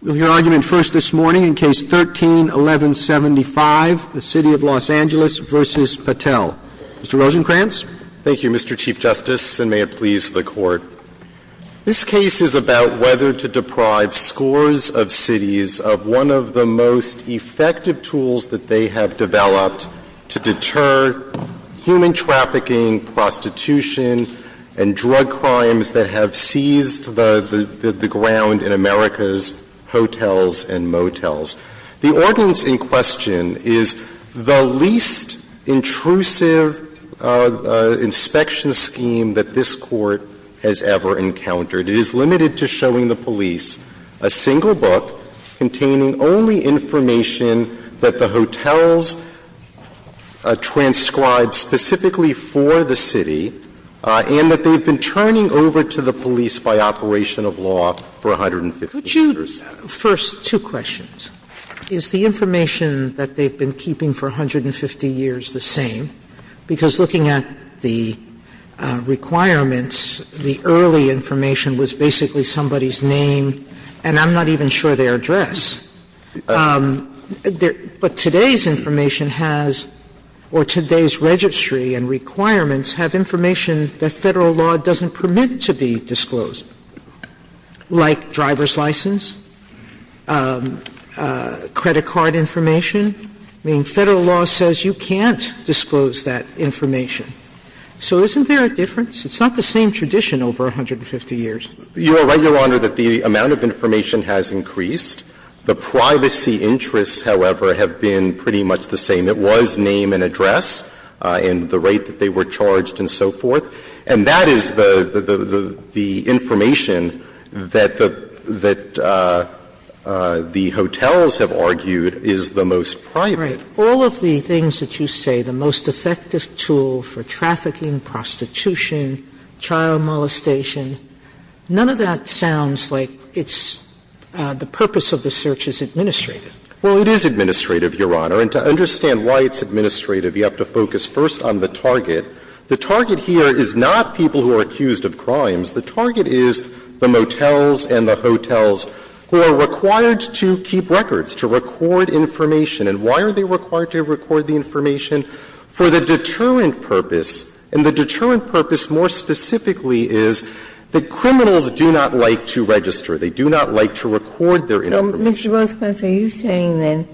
We'll hear argument first this morning in Case 13-1175, the City of Los Angeles v. Patel. Mr. Rosenkranz? Thank you, Mr. Chief Justice, and may it please the Court. This case is about whether to deprive scores of cities of one of the most effective tools that they have developed to deter human trafficking, prostitution, and drug crimes that have seized the ground in America's hotels and motels. The ordinance in question is the least intrusive inspection scheme that this Court has ever encountered. It is limited to showing the police a single book containing only information that the hotels transcribed specifically for the city and that they've been turning over to the police by operation of law for 150 years. Could you, first, two questions. Is the information that they've been keeping for 150 years the same? And then, secondly, can you give us a sense of the nature of the information that they've been keeping? Because looking at the requirements, the early information was basically somebody's name, and I'm not even sure their address. But today's information has, or today's registry and requirements have information that Federal law doesn't permit to be disclosed, like driver's license, credit card information. I mean, Federal law says you can't disclose that information. So isn't there a difference? It's not the same tradition over 150 years. You are right, Your Honor, that the amount of information has increased. The privacy interests, however, have been pretty much the same. It was name and address and the rate that they were charged and so forth. And that is the information that the hotels have argued is the most private. Sotomayor, all of the things that you say, the most effective tool for trafficking, prostitution, child molestation, none of that sounds like it's the purpose of the search is administrative. Well, it is administrative, Your Honor. And to understand why it's administrative, you have to focus first on the target. The target here is not people who are accused of crimes. The target is the motels and the hotels who are required to keep records, to record information. And why are they required to record the information? For the deterrent purpose. And the deterrent purpose more specifically is that criminals do not like to register. They do not like to record their information. So, Mr. Rosenkranz, are you saying then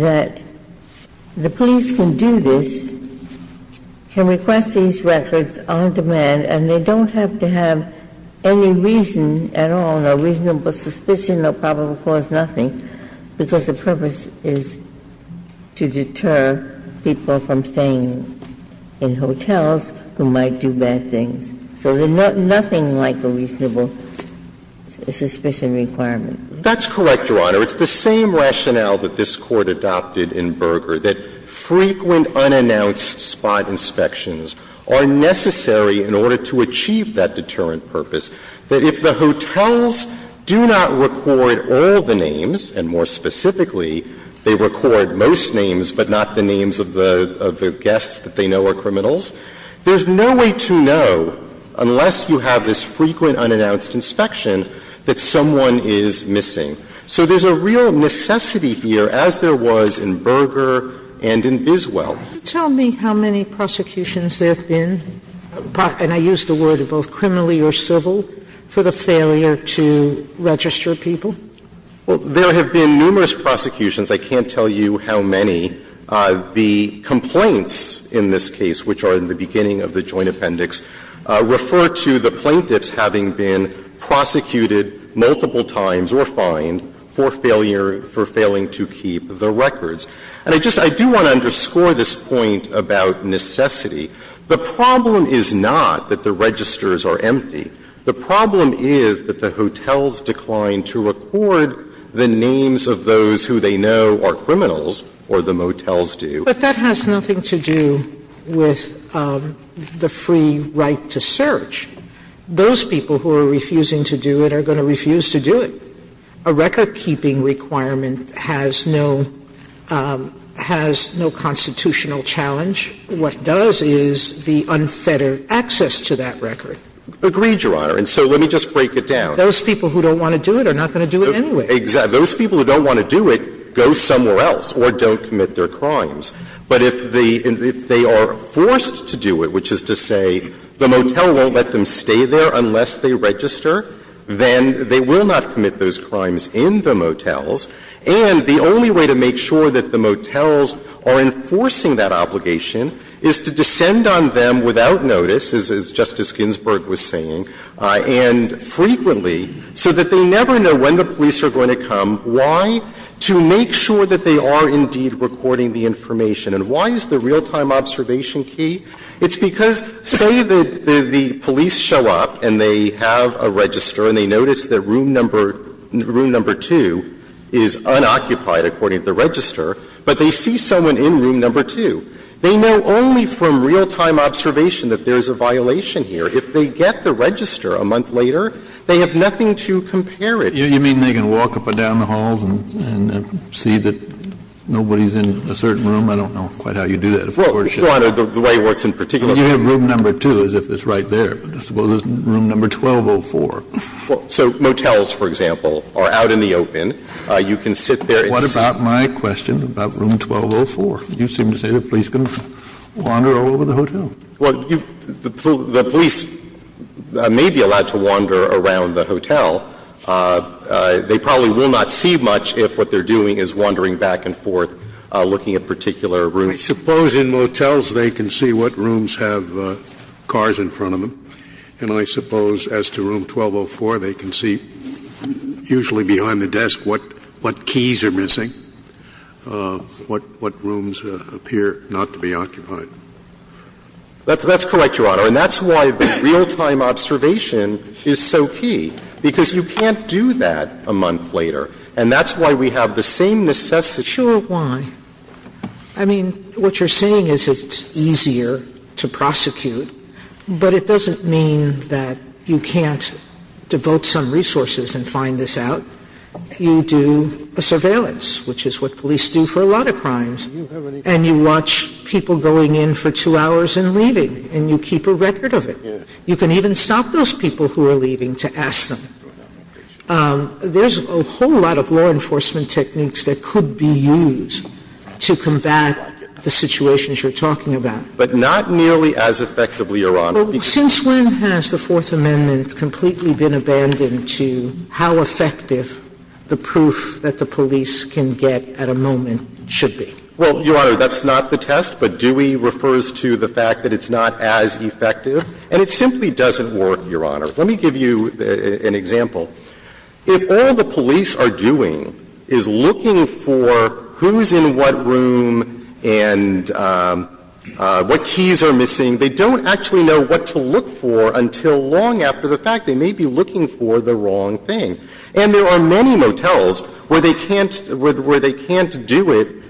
that the police can do this, can request these records on demand, and they don't have to have any reason at all, no reasonable suspicion, no probable cause, nothing, because the purpose is to deter people from staying in hotels who might do bad things? So there's nothing like a reasonable suspicion requirement. That's correct, Your Honor. It's the same rationale that this Court adopted in Berger, that frequent unannounced spot inspections are necessary in order to achieve that deterrent purpose. That if the hotels do not record all the names, and more specifically, they record most names but not the names of the guests that they know are criminals, there's no way to know, unless you have this frequent unannounced inspection, that someone is missing. So there's a real necessity here, as there was in Berger and in Biswell. Can you tell me how many prosecutions there have been, and I use the word both criminally or civil, for the failure to register people? Well, there have been numerous prosecutions. I can't tell you how many. The complaints in this case, which are in the beginning of the Joint Appendix, refer to the plaintiffs having been prosecuted multiple times or fined for failure to keep the records. And I just do want to underscore this point about necessity. The problem is not that the registers are empty. The problem is that the hotels decline to record the names of those who they know are criminals, or the motels do. But that has nothing to do with the free right to search. Those people who are refusing to do it are going to refuse to do it. A recordkeeping requirement has no constitutional challenge. What does is the unfettered access to that record. Agreed, Your Honor. And so let me just break it down. Those people who don't want to do it are not going to do it anyway. Exactly. Those people who don't want to do it go somewhere else or don't commit their crimes. But if they are forced to do it, which is to say the motel won't let them stay there unless they register, then they will not commit those crimes in the motels. And the only way to make sure that the motels are enforcing that obligation is to descend on them without notice, as Justice Ginsburg was saying, and frequently so that they never know when the police are going to come. Why? To make sure that they are indeed recording the information. And why is the real-time observation key? It's because, say the police show up and they have a register and they notice that room number 2 is unoccupied according to the register, but they see someone in room number 2. They know only from real-time observation that there is a violation here. If they get the register a month later, they have nothing to compare it. You mean they can walk up and down the halls and see that nobody is in a certain room? I don't know quite how you do that, of course, Justice. Well, Your Honor, the way it works in particular is you have room number 2 as if it's right there, but I suppose it's room number 1204. So motels, for example, are out in the open. You can sit there and see. What about my question about room 1204? You seem to say the police can wander all over the hotel. Well, the police may be allowed to wander around the hotel. They probably will not see much if what they're doing is wandering back and forth looking at particular rooms. I suppose in motels they can see what rooms have cars in front of them. And I suppose as to room 1204, they can see, usually behind the desk, what keys are missing, what rooms appear not to be occupied. That's correct, Your Honor. And that's why the real-time observation is so key, because you can't do that a month later. And that's why we have the same necessity. Sure, why? I mean, what you're saying is it's easier to prosecute, but it doesn't mean that you can't devote some resources and find this out. And you watch people going in for two hours and leaving, and you keep a record of it. You can even stop those people who are leaving to ask them. There's a whole lot of law enforcement techniques that could be used to combat the situations you're talking about. But not nearly as effectively, Your Honor. Since when has the Fourth Amendment completely been abandoned to how effective the proof that the police can get at a moment should be? Well, Your Honor, that's not the test. But Dewey refers to the fact that it's not as effective. And it simply doesn't work, Your Honor. Let me give you an example. If all the police are doing is looking for who's in what room and what keys are missing, they don't actually know what to look for until long after the fact. They may be looking for the wrong thing. And there are many motels where they can't do it,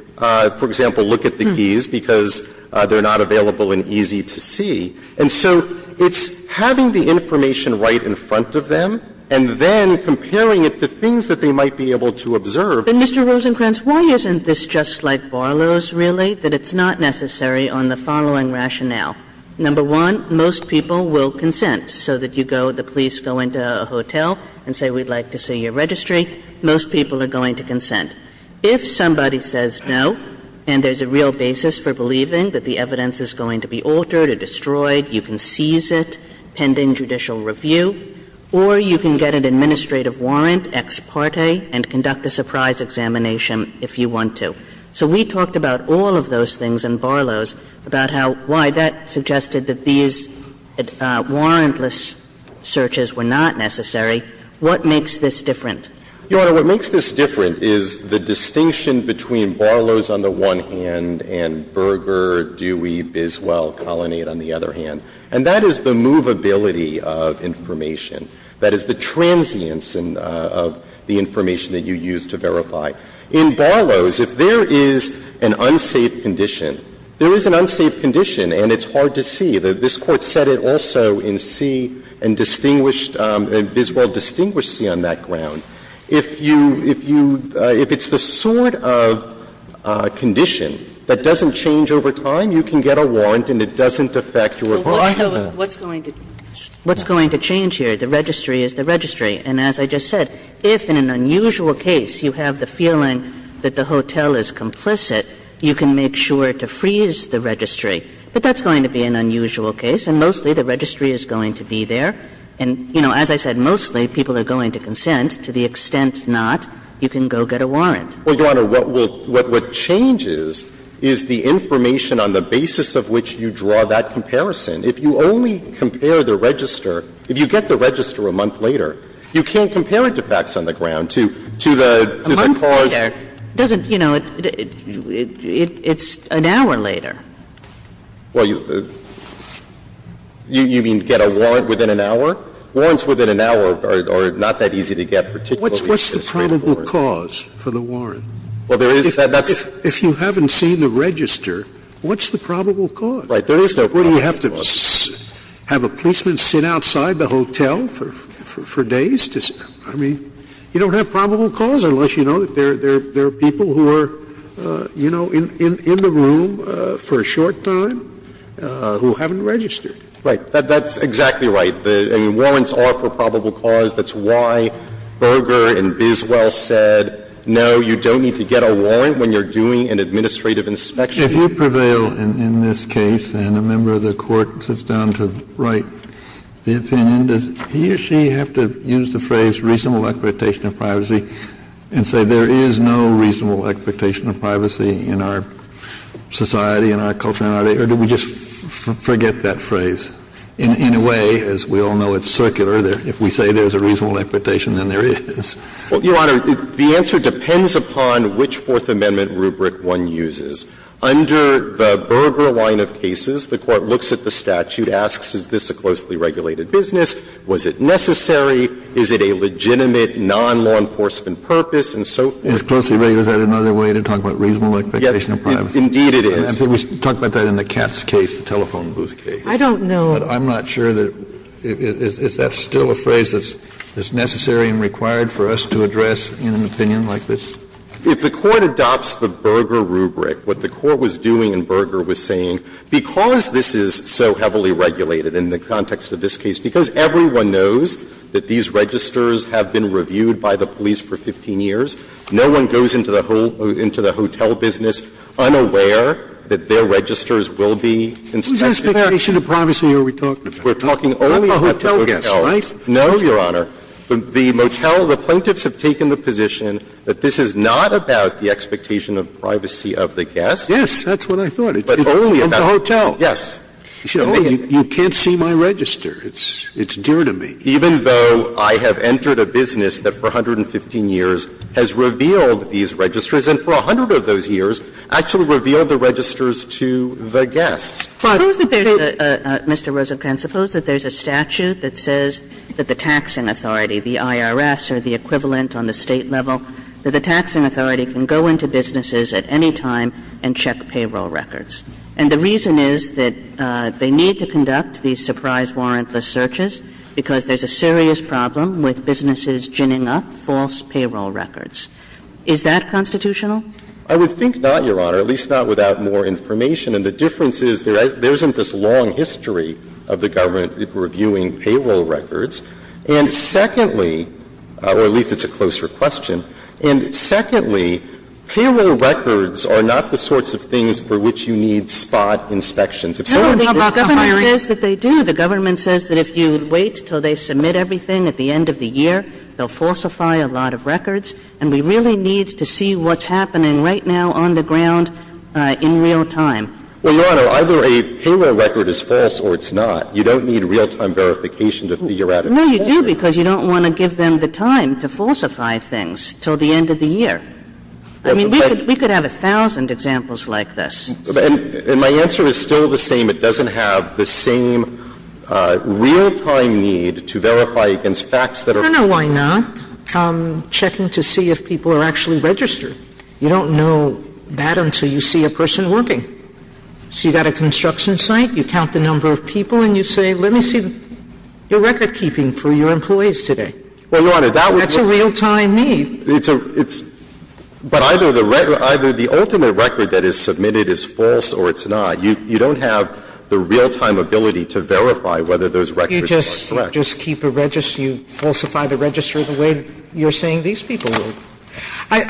for example, look at the keys because they're not available and easy to see. And so it's having the information right in front of them and then comparing it to things that they might be able to observe. But, Mr. Rosenkranz, why isn't this just like Barlow's, really, that it's not necessary on the following rationale? Number one, most people will consent so that you go, the police go into a hotel and say, we'd like to see your registry. Most people are going to consent. If somebody says no and there's a real basis for believing that the evidence is going to be altered or destroyed, you can seize it pending judicial review, or you can get an administrative warrant, ex parte, and conduct a surprise examination if you want to. So we talked about all of those things in Barlow's, about how why that suggested that these warrantless searches were not necessary. What makes this different? Rosenkranz, Your Honor, what makes this different is the distinction between Barlow's on the one hand and Berger, Dewey, Biswell, Colonnade on the other hand. And that is the movability of information. That is the transience of the information that you use to verify. In Barlow's, if there is an unsafe condition, there is an unsafe condition and it's hard to see. This Court said it also in C and distinguished, Biswell distinguished C on that ground. If you, if you, if it's the sort of condition that doesn't change over time, you can get a warrant and it doesn't affect your client. Kagan. What's going to change here? The registry is the registry. And as I just said, if in an unusual case you have the feeling that the hotel is complicit, you can make sure to freeze the registry. But that's going to be an unusual case. And mostly the registry is going to be there. And, you know, as I said, mostly people are going to consent to the extent not, you can go get a warrant. Well, Your Honor, what will, what changes is the information on the basis of which you draw that comparison. If you only compare the register, if you get the register a month later, you can't compare it to facts on the ground, to the cause. A month later doesn't, you know, it's an hour later. Well, you, you mean get a warrant within an hour? Warrants within an hour are not that easy to get, particularly if it's a written warrant. What's the probable cause for the warrant? Well, there is, that's. If you haven't seen the register, what's the probable cause? Right. There is no probable cause. What, do you have to have a policeman sit outside the hotel for days to, I mean, you don't have probable cause unless you know that there are people who are, you know, in the room for a short time who haven't registered. Right. That's exactly right. The warrants are for probable cause. That's why Berger and Biswell said, no, you don't need to get a warrant when you're doing an administrative inspection. If you prevail in this case, and a member of the Court sits down to write the opinion, does he or she have to use the phrase reasonable expectation of privacy and say there is no reasonable expectation of privacy in our society, in our culture, in our day? Or do we just forget that phrase? In a way, as we all know, it's circular. If we say there's a reasonable expectation, then there is. Well, Your Honor, the answer depends upon which Fourth Amendment rubric one uses. Under the Berger line of cases, the Court looks at the statute, asks is this a closely regulated business, was it necessary, is it a legitimate non-law enforcement purpose, and so forth. It's closely regulated. Is that another way to talk about reasonable expectation of privacy? Indeed, it is. We talked about that in the Katz case, the telephone booth case. I don't know. But I'm not sure that that's still a phrase that's necessary and required for us to address in an opinion like this. If the Court adopts the Berger rubric, what the Court was doing in Berger was saying, because this is so heavily regulated in the context of this case, because everyone knows that these registers have been reviewed by the police for 15 years. No one goes into the hotel business unaware that their registers will be inspected. Who's expectation of privacy are we talking about? We're talking only about the motels. Not the hotel guests, right? No, Your Honor. The motel, the plaintiffs have taken the position that this is not about the expectation of privacy of the guests. Yes, that's what I thought. But only about the hotel. Yes. You can't see my register. It's dear to me. Even though I have entered a business that for 115 years has revealed these registers and for 100 of those years actually revealed the registers to the guests. Suppose that there's a, Mr. Rosenkranz, suppose that there's a statute that says that the taxing authority, the IRS or the equivalent on the State level, that the taxing authority can go into businesses at any time and check payroll records. And the reason is that they need to conduct these surprise warrantless searches because there's a serious problem with businesses ginning up false payroll records. Is that constitutional? I would think not, Your Honor, at least not without more information. And the difference is there isn't this long history of the government reviewing payroll records. And secondly, or at least it's a closer question, and secondly, payroll records are not the sorts of things for which you need spot inspections. If someone comes up to a hiring. No, the government says that they do. The government says that if you wait until they submit everything at the end of the year, they'll falsify a lot of records. And we really need to see what's happening right now on the ground in real time. Well, Your Honor, either a payroll record is false or it's not. You don't need real-time verification to figure out if it's false. No, you do, because you don't want to give them the time to falsify things until the end of the year. I mean, we could have a thousand examples like this. And my answer is still the same. It doesn't have the same real-time need to verify against facts that are false. I don't know why not. Checking to see if people are actually registered. You don't know that until you see a person working. So you've got a construction site, you count the number of people, and you say, let me see your recordkeeping for your employees today. Well, Your Honor, that would be. That's a real-time need. But either the ultimate record that is submitted is false or it's not. You don't have the real-time ability to verify whether those records are correct. You just keep a register. You falsify the register the way you're saying these people work.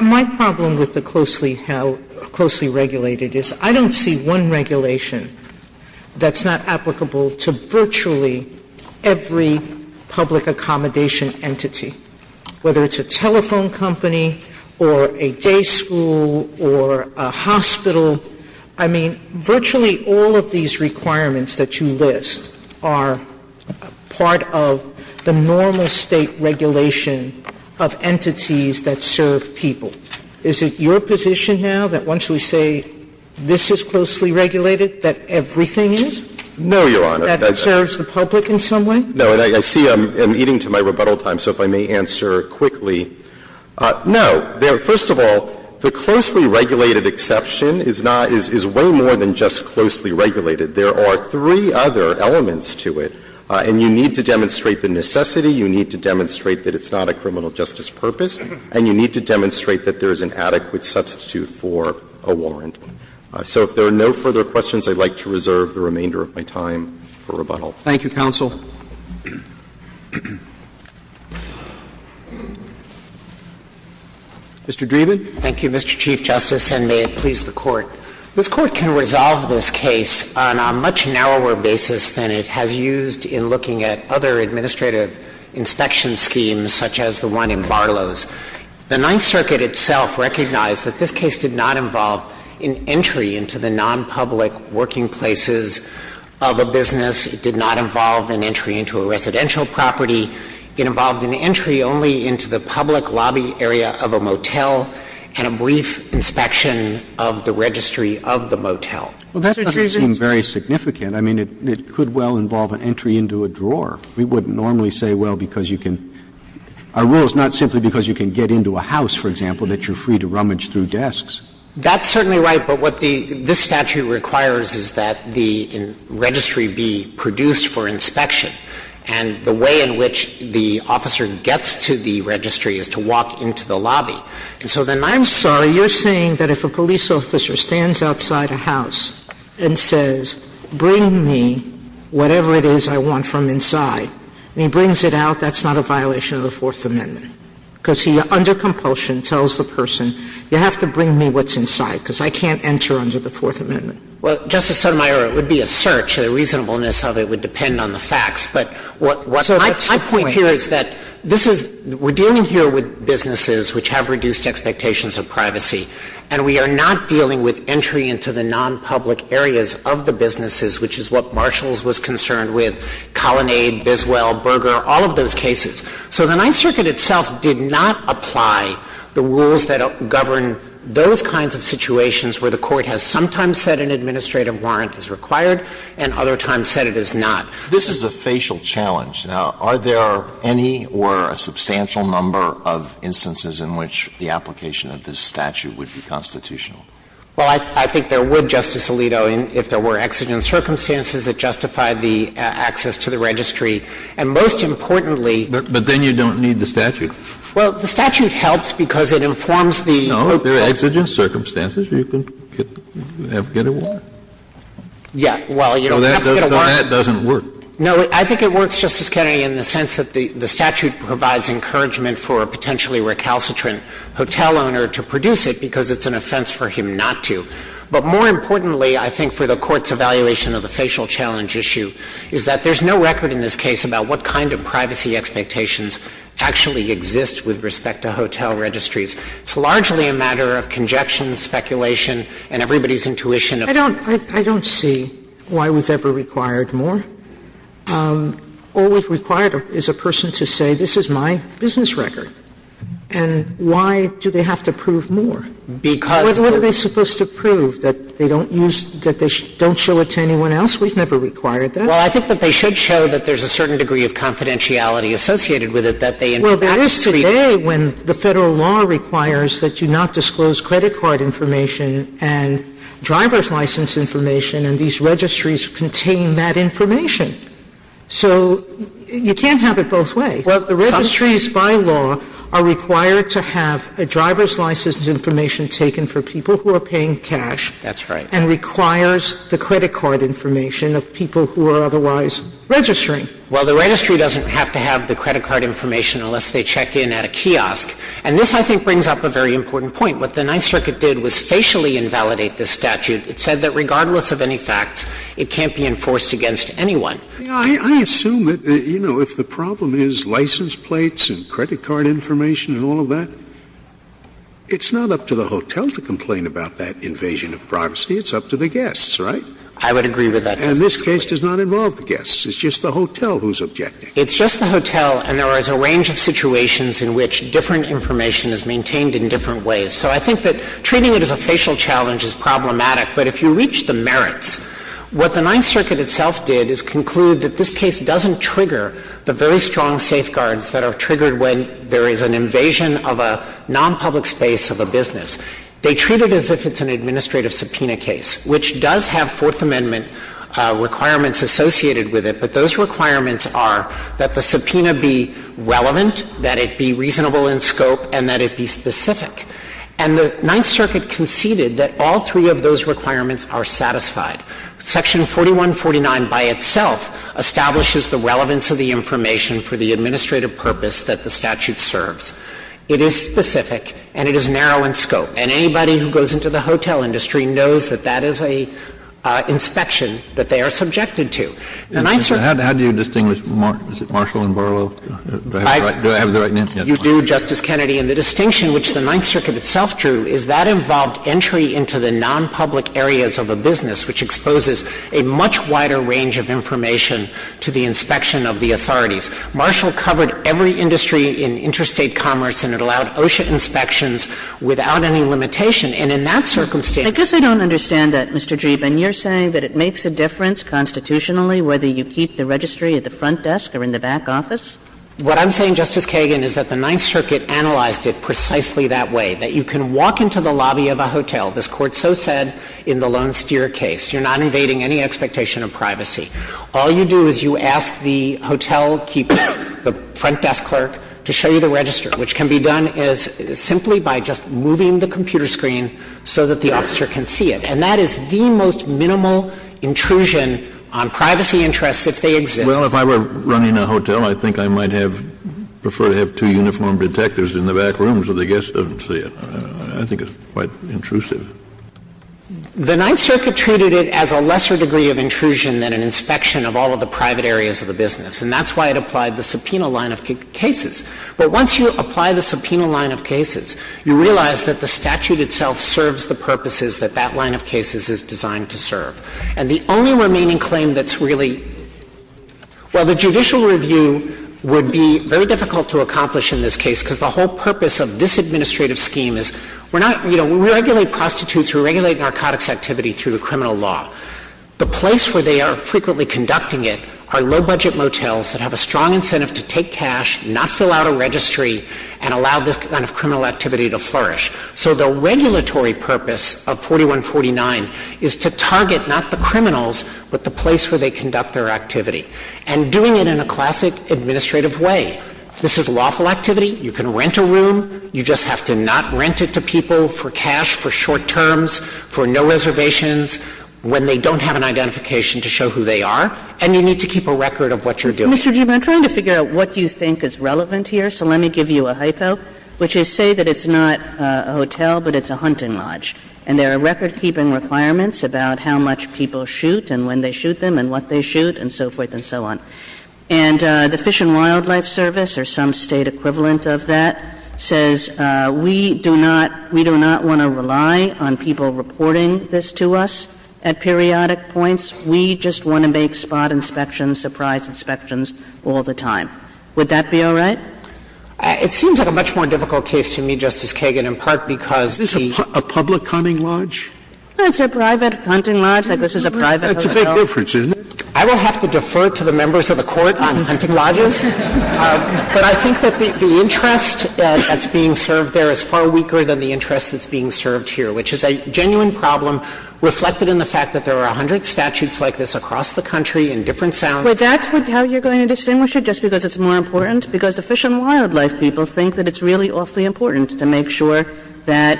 My problem with the closely regulated is I don't see one regulation that's not applicable to virtually every public accommodation entity, whether it's a telephone call, a car company, or a day school, or a hospital. I mean, virtually all of these requirements that you list are part of the normal State regulation of entities that serve people. Is it your position now that once we say this is closely regulated, that everything is? No, Your Honor. That it serves the public in some way? No. And I see I'm eating to my rebuttal time, so if I may answer quickly. No. First of all, the closely regulated exception is not — is way more than just closely regulated. There are three other elements to it, and you need to demonstrate the necessity. You need to demonstrate that it's not a criminal justice purpose. And you need to demonstrate that there is an adequate substitute for a warrant. So if there are no further questions, I'd like to reserve the remainder of my time for rebuttal. Thank you, counsel. Mr. Dreeben. Thank you, Mr. Chief Justice, and may it please the Court. This Court can resolve this case on a much narrower basis than it has used in looking at other administrative inspection schemes, such as the one in Barlow's. The Ninth Circuit itself recognized that this case did not involve an entry into the nonpublic working places of a business. It did not involve an entry into a residential property. It involved an entry only into the public lobby area of a motel and a brief inspection of the registry of the motel. Well, that doesn't seem very significant. I mean, it could well involve an entry into a drawer. We wouldn't normally say, well, because you can — our rule is not simply because you can get into a house, for example, that you're free to rummage through desks. That's certainly right. But what the — this statute requires is that the registry be produced for inspection. And the way in which the officer gets to the registry is to walk into the lobby. And so then I'm sorry. You're saying that if a police officer stands outside a house and says, bring me whatever it is I want from inside, and he brings it out, that's not a violation of the Fourth Amendment? Because he, under compulsion, tells the person, you have to bring me what's inside because I can't enter under the Fourth Amendment. Well, Justice Sotomayor, it would be a search. The reasonableness of it would depend on the facts. But what I point here is that this is — we're dealing here with businesses which have reduced expectations of privacy. And we are not dealing with entry into the nonpublic areas of the businesses, which is what Marshalls was concerned with, Colonnade, Biswell, Berger, all of those cases. So the Ninth Circuit itself did not apply the rules that govern those kinds of situations where the Court has sometimes said an administrative warrant is required and other times said it is not. This is a facial challenge. Now, are there any or a substantial number of instances in which the application of this statute would be constitutional? Well, I think there would, Justice Alito, if there were exigent circumstances that justify the access to the registry. And most importantly — But then you don't need the statute. Well, the statute helps because it informs the — No, if there are exigent circumstances, you can get a warrant. Yeah. Well, you don't have to get a warrant. So that doesn't work. No, I think it works, Justice Kennedy, in the sense that the statute provides encouragement for a potentially recalcitrant hotel owner to produce it because it's an offense for him not to. But more importantly, I think, for the Court's evaluation of the facial challenge issue is that there's no record in this case about what kind of privacy expectations actually exist with respect to hotel registries. It's largely a matter of conjecture, speculation, and everybody's intuition. I don't — I don't see why we've ever required more. All we've required is a person to say, this is my business record. And why do they have to prove more? Because — What are they supposed to prove? That they don't use — that they don't show it to anyone else? We've never required that. Well, I think that they should show that there's a certain degree of confidentiality associated with it, that they in fact — Well, there is today when the Federal law requires that you not disclose credit card information and driver's license information, and these registries contain that information. So you can't have it both ways. Well, the registries by law are required to have a driver's license information taken for people who are paying cash — That's right. — and requires the credit card information of people who are otherwise registering. Well, the registry doesn't have to have the credit card information unless they check in at a kiosk. And this, I think, brings up a very important point. What the Ninth Circuit did was facially invalidate this statute. It said that regardless of any facts, it can't be enforced against anyone. I assume that, you know, if the problem is license plates and credit card information and all of that, it's not up to the hotel to complain about that invasion of privacy. It's up to the guests, right? I would agree with that. And this case does not involve the guests. It's just the hotel who's objecting. It's just the hotel. And there is a range of situations in which different information is maintained in different ways. So I think that treating it as a facial challenge is problematic. But if you reach the merits, what the Ninth Circuit itself did is conclude that this case doesn't trigger the very strong safeguards that are triggered when there is an invasion of a nonpublic space of a business. They treat it as if it's an administrative subpoena case, which does have Fourth Amendment requirements associated with it. But those requirements are that the subpoena be relevant, that it be reasonable in scope, and that it be specific. And the Ninth Circuit conceded that all three of those requirements are satisfied. Section 4149 by itself establishes the relevance of the information for the administrative purpose that the statute serves. It is specific and it is narrow in scope. And anybody who goes into the hotel industry knows that that is an inspection that they are subjected to. The Ninth Circuit — How do you distinguish Marshall and Barlow? Do I have the right — do I have the right name? You do, Justice Kennedy. And the distinction which the Ninth Circuit itself drew is that involved entry into the nonpublic areas of a business, which exposes a much wider range of information to the inspection of the authorities. Marshall covered every industry in interstate commerce, and it allowed OSHA inspections without any limitation. And in that circumstance — I guess I don't understand that, Mr. Dreeben. You're saying that it makes a difference constitutionally whether you keep the registry at the front desk or in the back office? What I'm saying, Justice Kagan, is that the Ninth Circuit analyzed it precisely that way, that you can walk into the lobby of a hotel. This Court so said in the Lone Steer case. You're not invading any expectation of privacy. All you do is you ask the hotelkeeper, the front desk clerk, to show you the register, which can be done as — simply by just moving the computer screen so that the officer can see it. And that is the most minimal intrusion on privacy interests if they exist. Well, if I were running a hotel, I think I might have — prefer to have two uniformed detectives in the back room so the guest doesn't see it. I think it's quite intrusive. The Ninth Circuit treated it as a lesser degree of intrusion than an inspection of all of the private areas of the business. And that's why it applied the subpoena line of cases. But once you apply the subpoena line of cases, you realize that the statute itself serves the purposes that that line of cases is designed to serve. And the only remaining claim that's really — well, the judicial review would be very difficult to accomplish in this case because the whole purpose of this administrative scheme is we're not — you know, we regulate prostitutes, we regulate narcotics activity through the criminal law. The place where they are frequently conducting it are low-budget motels that have a strong incentive to take cash, not fill out a registry, and allow this kind of criminal activity to flourish. So the regulatory purpose of 4149 is to target not the criminals, but the place where they conduct their activity, and doing it in a classic administrative way. This is lawful activity. You can rent a room. You just have to not rent it to people for cash, for short terms, for no reservations, when they don't have an identification to show who they are. And you need to keep a record of what you're doing. And, Mr. Chief, I'm trying to figure out what you think is relevant here, so let me give you a hypo, which is say that it's not a hotel, but it's a hunting lodge, and there are record-keeping requirements about how much people shoot and when they shoot them and what they shoot and so forth and so on. And the Fish and Wildlife Service, or some State equivalent of that, says we do not — we do not want to rely on people reporting this to us at periodic points. We just want to make spot inspections, surprise inspections all the time. Would that be all right? It seems like a much more difficult case to me, Justice Kagan, in part because the — Is this a public hunting lodge? It's a private hunting lodge. Like, this is a private hotel. That's a big difference, isn't it? I will have to defer to the members of the Court on hunting lodges. But I think that the interest that's being served there is far weaker than the interest that's being served here, which is a genuine problem reflected in the fact that there are a hundred statutes like this across the country in different sounds. But that's how you're going to distinguish it, just because it's more important? Because the fish and wildlife people think that it's really awfully important to make sure that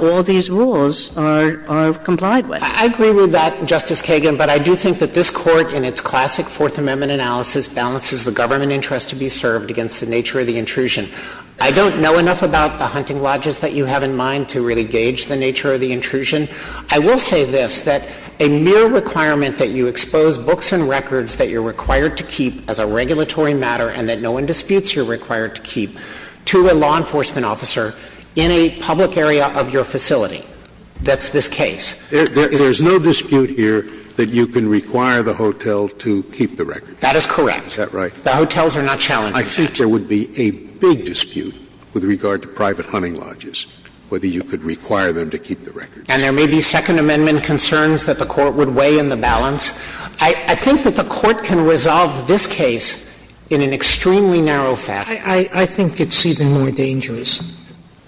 all these rules are — are complied with. I agree with that, Justice Kagan, but I do think that this Court, in its classic Fourth Amendment analysis, balances the government interest to be served against the nature of the intrusion. I don't know enough about the hunting lodges that you have in mind to really gauge the nature of the intrusion. I will say this, that a mere requirement that you expose books and records that you're required to keep as a regulatory matter and that no one disputes you're required to keep to a law enforcement officer in a public area of your facility, that's this case. There is no dispute here that you can require the hotel to keep the records. That is correct. Is that right? The hotels are not challenged in that. I think there would be a big dispute with regard to private hunting lodges, whether you could require them to keep the records. And there may be Second Amendment concerns that the Court would weigh in the balance. I — I think that the Court can resolve this case in an extremely narrow fashion. I — I think it's even more dangerous.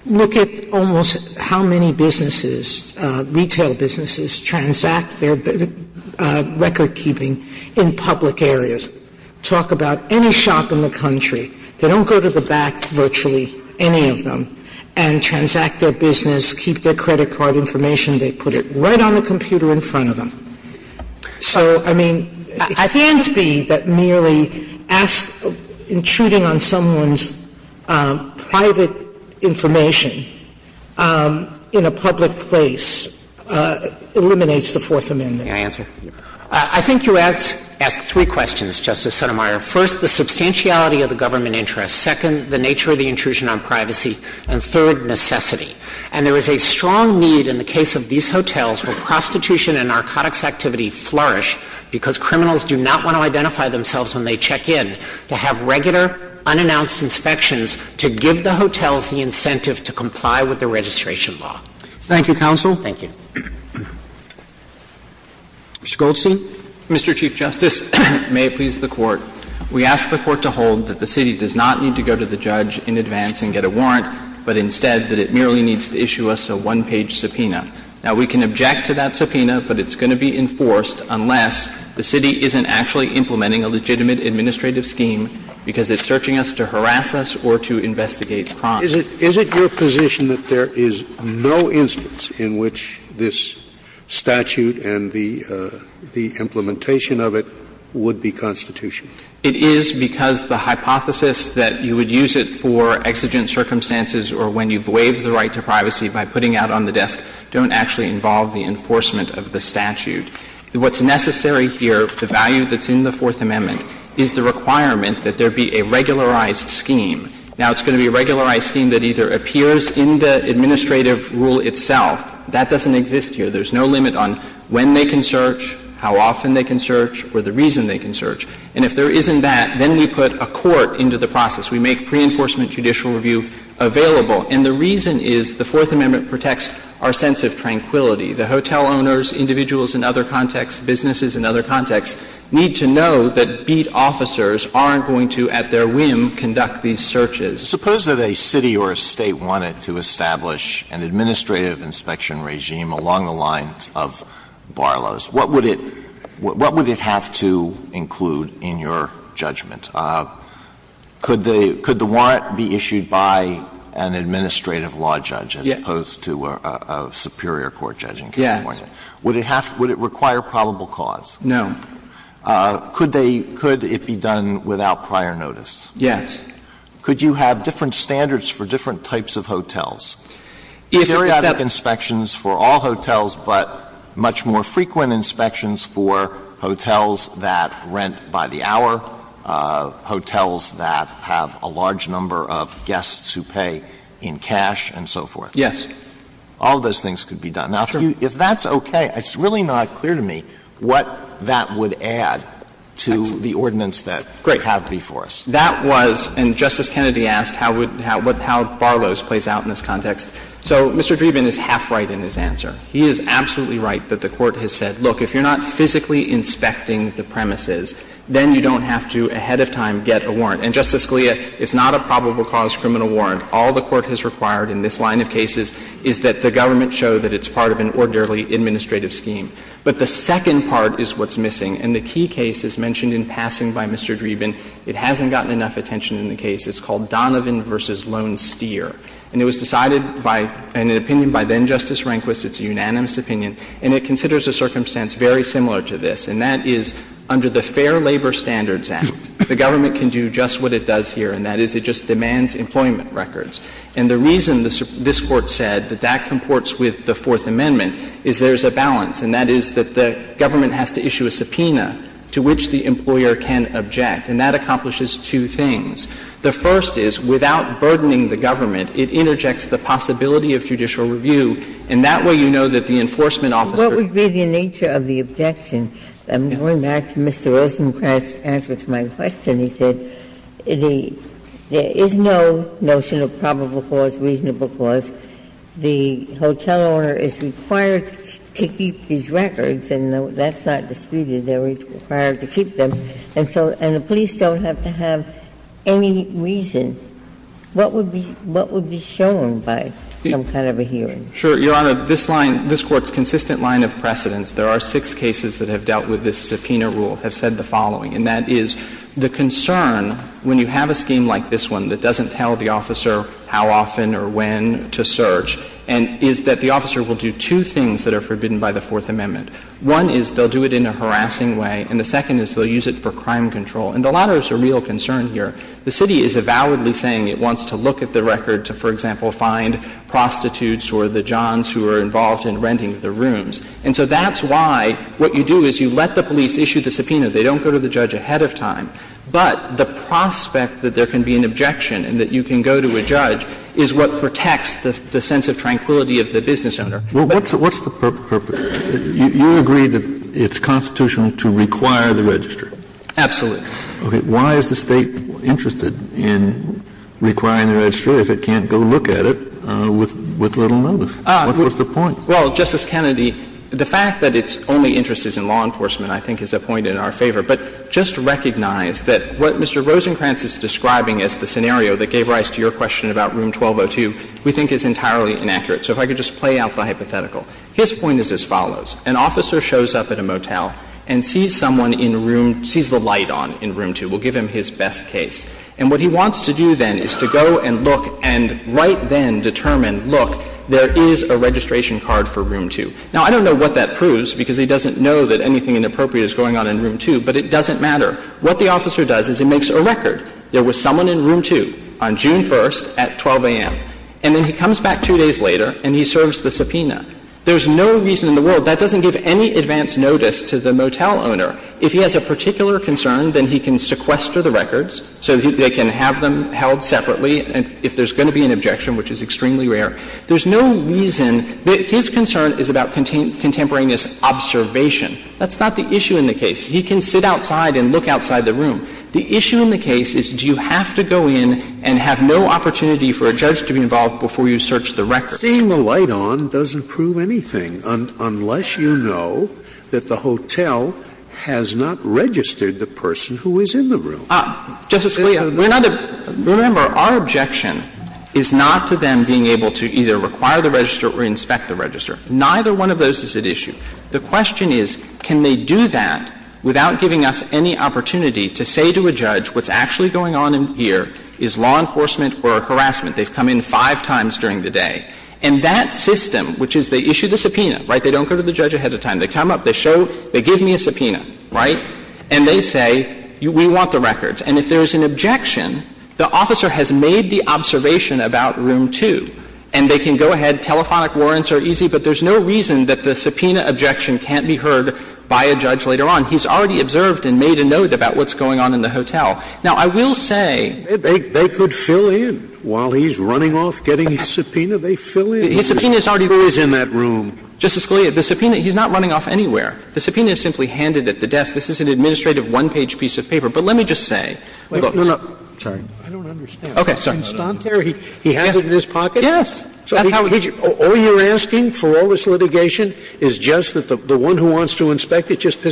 Look at almost how many businesses, retail businesses, transact their recordkeeping in public areas. Talk about any shop in the country, they don't go to the back virtually, any of them, and transact their business, keep their credit card information. They put it right on the computer in front of them. So, I mean, it can't be that merely ask — intruding on someone's private information in a public place eliminates the Fourth Amendment. May I answer? I think you ask — ask three questions, Justice Sotomayor. First, the substantiality of the government interest. Second, the nature of the intrusion on privacy. And third, necessity. And there is a strong need in the case of these hotels where prostitution and narcotics activity flourish because criminals do not want to identify themselves when they check in to have regular, unannounced inspections to give the hotels the incentive to comply with the registration law. Thank you, counsel. Thank you. Mr. Goldstein. Mr. Chief Justice, and may it please the Court, we ask the Court to hold that the plaintiff is not going to go to the judge in advance and get a warrant, but instead that it merely needs to issue us a one-page subpoena. Now, we can object to that subpoena, but it's going to be enforced unless the city isn't actually implementing a legitimate administrative scheme because it's searching us to harass us or to investigate crime. Is it your position that there is no instance in which this statute and the implementation of it would be constitutional? It is because the hypothesis that you would use it for exigent circumstances or when you've waived the right to privacy by putting out on the desk don't actually involve the enforcement of the statute. What's necessary here, the value that's in the Fourth Amendment, is the requirement that there be a regularized scheme. Now, it's going to be a regularized scheme that either appears in the administrative rule itself. That doesn't exist here. There's no limit on when they can search, how often they can search, or the reason they can search. And if there isn't that, then we put a court into the process. We make pre-enforcement judicial review available. And the reason is the Fourth Amendment protects our sense of tranquility. The hotel owners, individuals in other contexts, businesses in other contexts need to know that beat officers aren't going to, at their whim, conduct these searches. Alitoso, we're going to get to the next part of this. Suppose that a city or a State wanted to establish an administrative inspection regime along the lines of Barlow's. What would it have to include in your judgment? Could the warrant be issued by an administrative law judge as opposed to a superior court judge in California? Yes. Would it require probable cause? No. Could they – could it be done without prior notice? Yes. Could you have different standards for different types of hotels? If there is that inspections for all hotels, but much more frequent inspections for hotels that rent by the hour, hotels that have a large number of guests who pay in cash, and so forth. Yes. All those things could be done. Now, if that's okay, it's really not clear to me what that would add to the ordinance that you have before us. That was – and Justice Kennedy asked how Barlow's plays out in this context. So Mr. Dreeben is half right in his answer. He is absolutely right that the Court has said, look, if you're not physically inspecting the premises, then you don't have to ahead of time get a warrant. And, Justice Scalia, it's not a probable cause criminal warrant. All the Court has required in this line of cases is that the government show that it's part of an ordinarily administrative scheme. But the second part is what's missing. And the key case is mentioned in passing by Mr. Dreeben. It hasn't gotten enough attention in the case. It's called Donovan v. Lone Steer. And it was decided by an opinion by then-Justice Rehnquist. It's a unanimous opinion. And it considers a circumstance very similar to this, and that is under the Fair Labor Standards Act, the government can do just what it does here, and that is it just doesn't have to do with employment records. And the reason this Court said that that comports with the Fourth Amendment is there's a balance, and that is that the government has to issue a subpoena to which the employer can object. And that accomplishes two things. The first is, without burdening the government, it interjects the possibility of judicial review, and that way you know that the enforcement officer can't do that. Ginsburg. Ginsburg. But what would be the nature of the objection? I'm going back to Mr. Rosenkranz's answer to my question. He said there is no notion of probable cause, reasonable cause. The hotel owner is required to keep these records, and that's not disputed. They're required to keep them. And so the police don't have to have any reason. What would be shown by some kind of a hearing? Sure, Your Honor. This line, this Court's consistent line of precedence, there are six cases that have dealt with this subpoena rule, have said the following, and that is the concern when you have a scheme like this one that doesn't tell the officer how often or when to search, and is that the officer will do two things that are forbidden by the Fourth Amendment. One is they'll do it in a harassing way, and the second is they'll use it for crime control. And the latter is a real concern here. The city is avowedly saying it wants to look at the record to, for example, find prostitutes or the johns who are involved in renting the rooms. And so that's why what you do is you let the police issue the subpoena. They don't go to the judge ahead of time. But the prospect that there can be an objection and that you can go to a judge is what protects the sense of tranquility of the business owner. But what's the purpose? You agree that it's constitutional to require the register. Absolutely. Kennedy, the fact that it's only interest is in law enforcement, I think, is a point in our favor. But just recognize that what Mr. Rosenkranz is describing as the scenario that gave rise to your question about Room 1202, we think is entirely inaccurate. So if I could just play out the hypothetical. His point is as follows. An officer shows up at a motel and sees someone in a room, sees the light on, and sees a woman in a room. He says, let's go and see what's going on in Room 1202. He says, let's go and see what's going on in Room 1202. We'll give him his best case. And what he wants to do then is to go and look and right then determine, look, there is a registration card for Room 2. Now, I don't know what that proves because he doesn't know that anything inappropriate is going on in Room 2. But it doesn't matter. What the officer does is he makes a record, there was someone in Room 2 on June 1st at 12 am. And then he comes back two days later and he serves the subpoena. There's no reason in the world, that doesn't give any advance notice to the motel owner. If he has a particular concern, then he can sequester the records so they can have them held separately if there's going to be an objection, which is extremely rare. There's no reason. His concern is about contemporaneous observation. That's not the issue in the case. He can sit outside and look outside the room. The issue in the case is do you have to go in and have no opportunity for a judge to be involved before you search the record? Scalia, seeing the light on doesn't prove anything unless you know that the hotel has not registered the person who is in the room. Justice Scalia, we're not going to be able to either require the register or inspect the register. Neither one of those is at issue. The question is, can they do that without giving us any opportunity to say to a judge what's actually going on in here is law enforcement or harassment. They've come in five times during the day. And that system, which is they issue the subpoena, right, they don't go to the judge ahead of time. They come up, they show, they give me a subpoena, right, and they say we want the records. And if there's an objection, the officer has made the observation about room 2, and they can go ahead, telephonic warrants are easy, but there's no reason that the subpoena objection can't be heard by a judge later on. He's already observed and made a note about what's going on in the hotel. Now, I will say they could fill in while he's running off getting his subpoena. They fill in. His subpoena is already there. Justice Scalia, the subpoena, he's not running off anywhere. The subpoena is simply handed at the desk. This is an administrative one-page piece of paper. But let me just say. Sotomayor, he has it in his pocket? Yes. All you're asking for all this litigation is just that the one who wants to inspect it just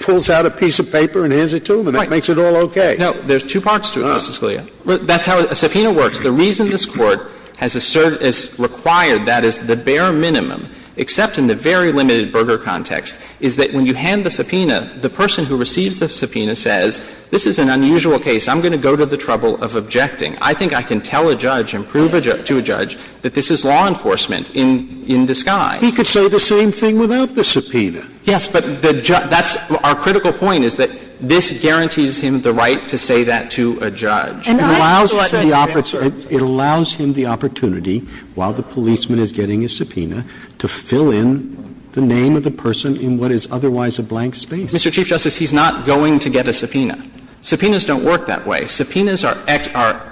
pulls out a piece of paper and hands it to him, and that makes it all okay. No. There's two parts to it, Justice Scalia. That's how a subpoena works. The reason this Court has asserted, has required that as the bare minimum, except in the very limited Berger context, is that when you hand the subpoena, the person who receives the subpoena says, this is an unusual case. I'm going to go to the trouble of objecting. I think I can tell a judge and prove to a judge that this is law enforcement in disguise. He could say the same thing without the subpoena. Yes, but that's our critical point, is that this guarantees him the right to say that to a judge. And I'm glad that you answered. It allows him the opportunity, while the policeman is getting a subpoena, to fill in the name of the person in what is otherwise a blank space. Mr. Chief Justice, he's not going to get a subpoena. Subpoenas don't work that way. Subpoenas are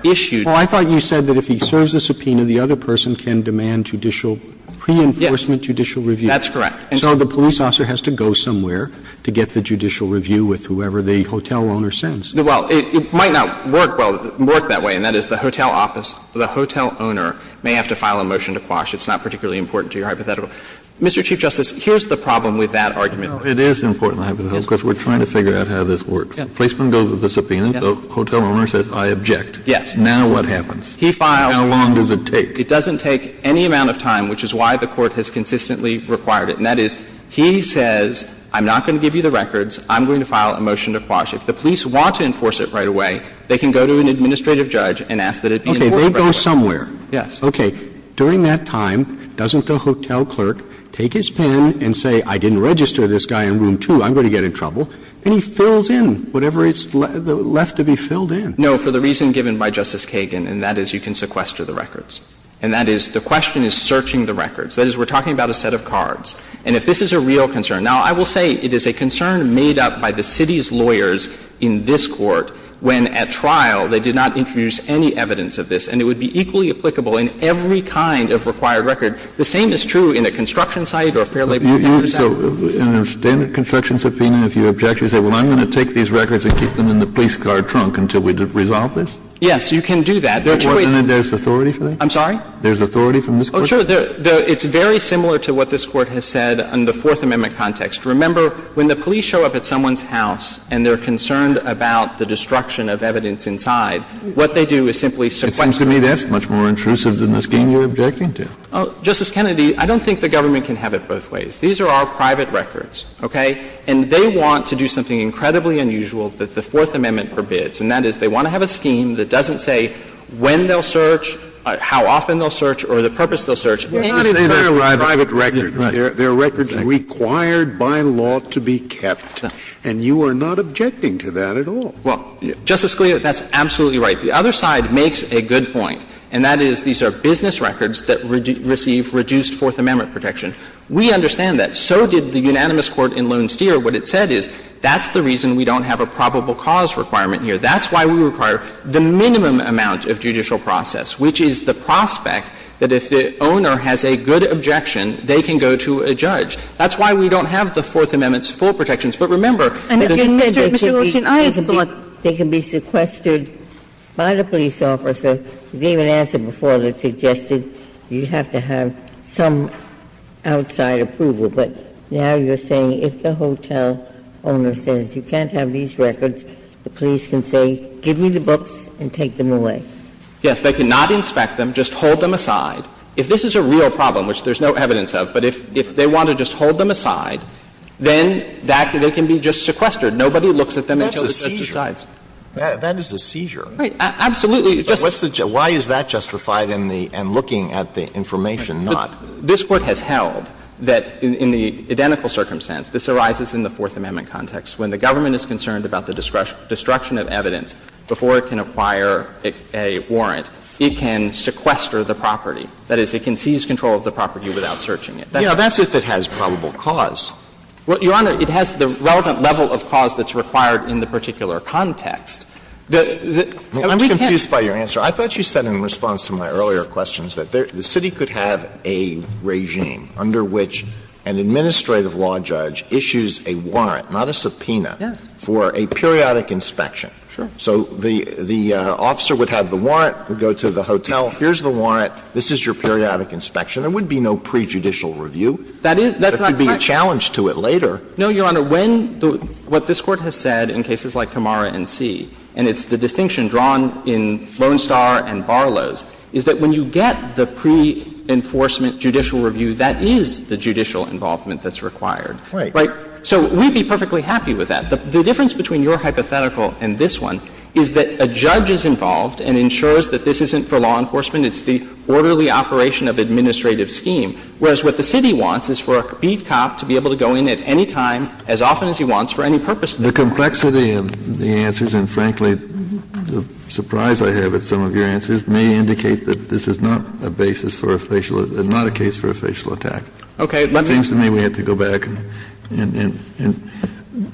issued. Well, I thought you said that if he serves a subpoena, the other person can demand judicial pre-enforcement, judicial review. That's correct. So the police officer has to go somewhere to get the judicial review with whoever the hotel owner sends. Well, it might not work that way, and that is the hotel office, the hotel owner may have to file a motion to quash. It's not particularly important to your hypothetical. Mr. Chief Justice, here's the problem with that argument. It is important, because we're trying to figure out how this works. The policeman goes with the subpoena, the hotel owner says, I object. Yes. Now what happens? He files. How long does it take? It doesn't take any amount of time, which is why the Court has consistently required it. And that is, he says, I'm not going to give you the records, I'm going to file a motion to quash. If the police want to enforce it right away, they can go to an administrative judge and ask that it be enforced right away. Okay. They go somewhere. Yes. Okay. During that time, doesn't the hotel clerk take his pen and say, I didn't register this guy in room 2, I'm going to get in trouble, and he fills in whatever is left to be filled in? No, for the reason given by Justice Kagan, and that is you can sequester the records. And that is, the question is searching the records. That is, we're talking about a set of cards. And if this is a real concern, now, I will say it is a concern made up by the city's lawyers in this Court when, at trial, they did not introduce any evidence of this. And it would be equally applicable in every kind of required record. The same is true in a construction site or a fair labor site. So in a standard construction subpoena, if you object, you say, well, I'm going to take these records and keep them in the police car trunk until we resolve this? Yes, you can do that. There are two ways. Then there's authority for that? I'm sorry? There's authority from this Court? Sure. It's very similar to what this Court has said in the Fourth Amendment context. Remember, when the police show up at someone's house and they're concerned about the destruction of evidence inside, what they do is simply sequester. It seems to me that's much more intrusive than the scheme you're objecting to. Justice Kennedy, I don't think the government can have it both ways. These are our private records, okay? And they want to do something incredibly unusual that the Fourth Amendment forbids, and that is they want to have a scheme that doesn't say when they'll search or the purpose they'll search. Scalia, that's absolutely right. The other side makes a good point, and that is these are business records that receive reduced Fourth Amendment protection. We understand that. So did the unanimous court in Lone Steer. What it said is that's the reason we don't have a probable cause requirement here. That's why we require the minimum amount of judicial process, which is the prospect that if the owner has a good objection, they can go to a judge. That's why we don't have the Fourth Amendment's full protections. But remember that if the owner can be sequestered by the police officer, you gave an answer before that suggested you have to have some outside approval. But now you're saying if the hotel owner says you can't have these records, the police can say, give me the books and take them away. Yes. They cannot inspect them. They cannot inspect them. They cannot inspect them. So if the owner wants to just hold them aside, if this is a real problem, which there's no evidence of, but if they want to just hold them aside, then that, they can be just sequestered. Nobody looks at them until the judge decides. Sotomayor, that's a seizure. That is a seizure. Right. Absolutely. Why is that justified in the — and looking at the information not? This Court has held that in the identical circumstance, this arises in the Fourth Amendment, that if the owner has sufficient evidence before it can acquire a warrant, it can sequester the property. That is, it can seize control of the property without searching it. Now, that's if it has probable cause. Well, Your Honor, it has the relevant level of cause that's required in the particular context. The — I'm confused by your answer. I thought you said in response to my earlier questions that the City could have a regime under which an administrative law judge issues a warrant, not a subpoena, for a periodic inspection. Sure. So the officer would have the warrant, would go to the hotel, here's the warrant, this is your periodic inspection. There would be no prejudicial review. That is — that's not correct. There could be a challenge to it later. No, Your Honor. When the — what this Court has said in cases like Camara and C, and it's the distinction drawn in Lone Star and Barlow's, is that when you get the pre-enforcement judicial review, that is the judicial involvement that's required. Right. Right. So we'd be perfectly happy with that. The difference between your hypothetical and this one is that a judge is involved and ensures that this isn't for law enforcement. It's the orderly operation of administrative scheme. Whereas what the City wants is for a beat cop to be able to go in at any time, as often as he wants, for any purpose. The complexity of the answers, and frankly, the surprise I have at some of your answers, may indicate that this is not a basis for a facial — not a case for a facial attack. Okay. It seems to me we have to go back and — and — and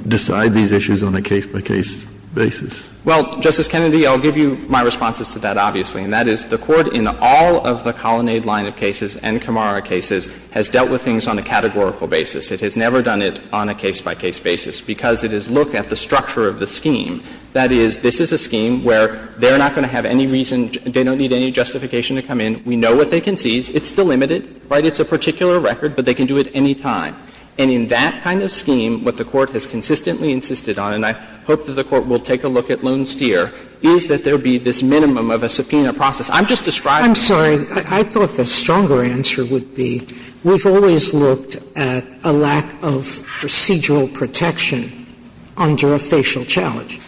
decide these issues on a case-by-case basis. Well, Justice Kennedy, I'll give you my responses to that, obviously. And that is, the Court in all of the Colonnade line of cases and Camara cases has dealt with things on a categorical basis. It has never done it on a case-by-case basis, because it is, look at the structure of the scheme. That is, this is a scheme where they're not going to have any reason — they don't need any justification to come in. We know what they can seize. It's delimited, right? It's a particular record, but they can do it any time. And in that kind of scheme, what the Court has consistently insisted on, and I hope that the Court will take a look at Lone Steer, is that there be this minimum of a subpoena process. I'm just describing — I'm sorry. I thought the stronger answer would be we've always looked at a lack of procedural protection under a facial challenge.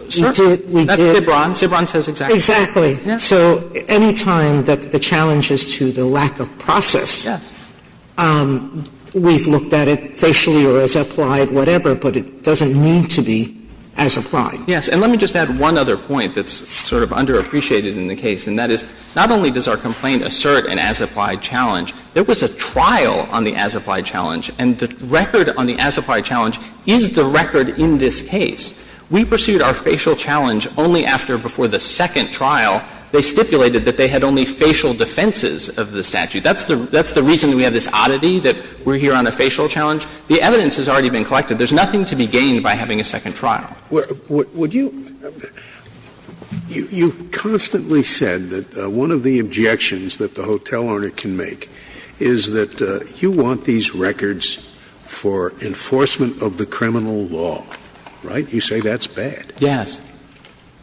We did. Sotomayor That's Cibran. Cibran says exactly. Sotomayor Exactly. So any time that the challenge is to the lack of process, we've looked at it facially or as applied, whatever, but it doesn't need to be as applied. Yes. And let me just add one other point that's sort of underappreciated in the case, and that is, not only does our complaint assert an as-applied challenge, there was a trial on the as-applied challenge, and the record on the as-applied challenge is the record in this case. We pursued our facial challenge only after, before the second trial. They stipulated that they had only facial defenses of the statute. That's the reason we have this oddity that we're here on a facial challenge. The evidence has already been collected. There's nothing to be gained by having a second trial. Scalia Would you — you've constantly said that one of the objections that the hotel owner can make is that you want these records for enforcement of the criminal law, right? You say that's bad. Yes.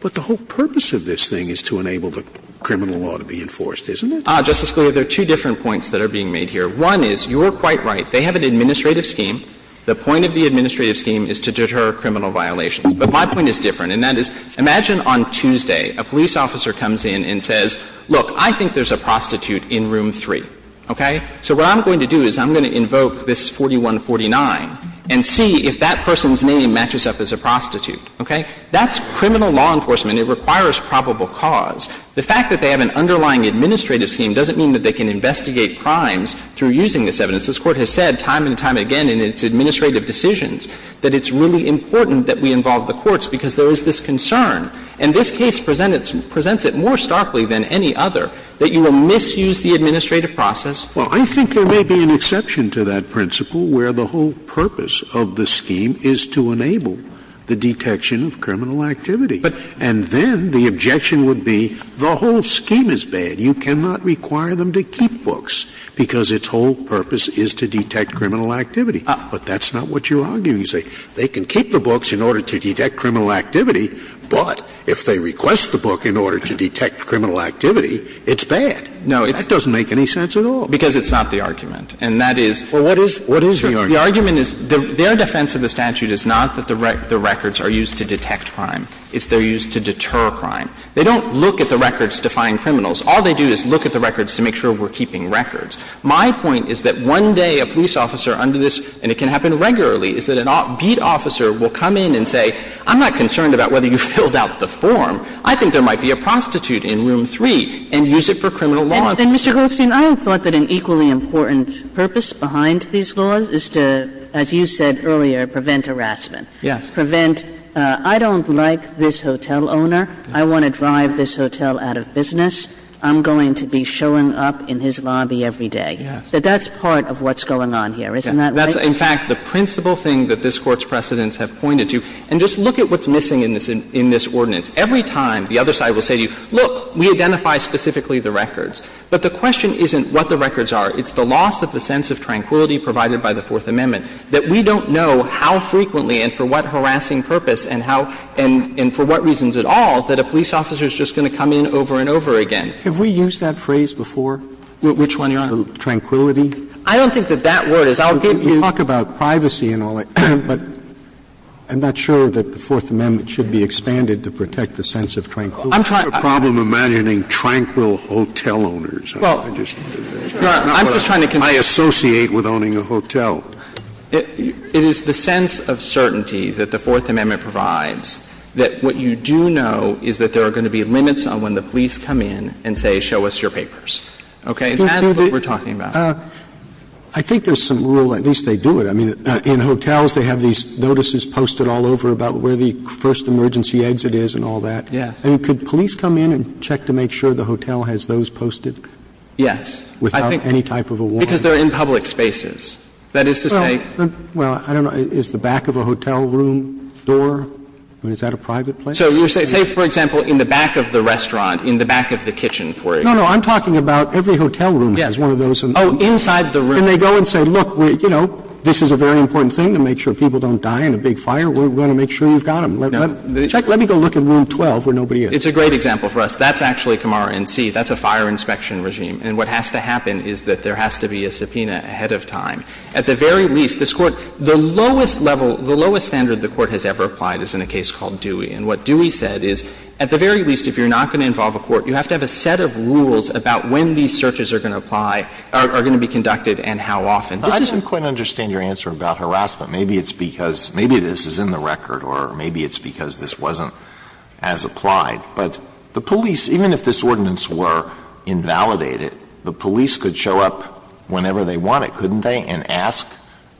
But the whole purpose of this thing is to enable the criminal law to be enforced, isn't it? Justice Scalia, there are two different points that are being made here. One is, you're quite right. They have an administrative scheme. The point of the administrative scheme is to deter criminal violations. But my point is different, and that is, imagine on Tuesday a police officer comes in and says, look, I think there's a prostitute in room 3, okay? So what I'm going to do is I'm going to invoke this 4149 and see if that person's name matches up as a prostitute, okay? That's criminal law enforcement. It requires probable cause. The fact that they have an underlying administrative scheme doesn't mean that they can investigate crimes through using this evidence. This Court has said time and time again in its administrative decisions that it's really important that we involve the courts because there is this concern. And this case presents it more starkly than any other that you will misuse the administrative process. Scalia Well, I think there may be an exception to that principle where the whole purpose of the scheme is to enable the detection of criminal activity. And then the objection would be the whole scheme is bad. You cannot require them to keep books because its whole purpose is to detect criminal activity. But that's not what you're arguing. You say they can keep the books in order to detect criminal activity, but if they request the book in order to detect criminal activity, it's bad. That doesn't make any sense at all. Goldstein Because it's not the argument. And that is the argument is their defense of the statute is not that the records are used to detect crime. It's they're used to deter crime. They don't look at the records to find criminals. All they do is look at the records to make sure we're keeping records. My point is that one day a police officer under this, and it can happen regularly, is that a beat officer will come in and say, I'm not concerned about whether you filled out the form. I think there might be a prostitute in room 3 and use it for criminal law enforcement. Kagan I mean, Mr. Goldstein, I don't think that an equally important purpose behind these laws is to, as you said earlier, prevent harassment, prevent, I don't like this hotel owner, I want to drive this hotel out of business, I'm going to be showing up in his lobby every day. But that's part of what's going on here, isn't that right? Goldstein That's, in fact, the principal thing that this Court's precedents have pointed to. And just look at what's missing in this ordinance. Every time the other side will say to you, look, we identify specifically the records. But the question isn't what the records are. It's the loss of the sense of tranquility provided by the Fourth Amendment. That we don't know how frequently and for what harassing purpose and how, and for what reasons at all, that a police officer is just going to come in over and over again. Scalia Have we used that phrase before? Goldstein Which one, Your Honor? Scalia Tranquility? Goldstein I don't think that that word is. I'll give you the other one. Scalia We talk about privacy and all that, but I'm not sure that the Fourth Amendment should be expanded to protect the sense of tranquility. Scalia I'm trying to— Scalia I have a problem imagining tranquil hotel owners. I just— Goldstein No, I'm just trying to convey— Scalia I associate with owning a hotel. Goldstein It is the sense of certainty that the Fourth Amendment provides that what you do know is that there are going to be limits on when the police come in and say, show us your papers. Okay? And that's what we're talking about. Scalia I think there's some rule, at least they do it. I mean, in hotels, they have these notices posted all over about where the first emergency exit is and all that. Goldstein Yes. Roberts And could police come in and check to make sure the hotel has those posted? Goldstein Yes. Roberts Without any type of a warrant? Goldstein Because they're in public spaces. That is to say— Roberts Well, I don't know. Is the back of a hotel room door? I mean, is that a private place? Goldstein So you're saying, say, for example, in the back of the restaurant, in the back of the kitchen, for example. Roberts No, no. I'm talking about every hotel room has one of those. Goldstein Yes. Oh, inside the room. Roberts And they go and say, look, you know, this is a very important thing to make sure people don't die in a big fire. We're going to make sure you've got them. Let me go look in Rule 12 where nobody is. Goldstein It's a great example for us. That's actually Camaro NC. That's a fire inspection regime. And what has to happen is that there has to be a subpoena ahead of time. At the very least, this Court, the lowest level, the lowest standard the Court has ever applied is in a case called Dewey. And what Dewey said is, at the very least, if you're not going to involve a court, you have to have a set of rules about when these searches are going to apply, are going to be conducted, and how often. This is a— Alito I don't quite understand your answer about harassment. Maybe it's because — maybe this is in the record, or maybe it's because this wasn't as applied. But the police, even if this ordinance were invalidated, the police could show up whenever they wanted, couldn't they, and ask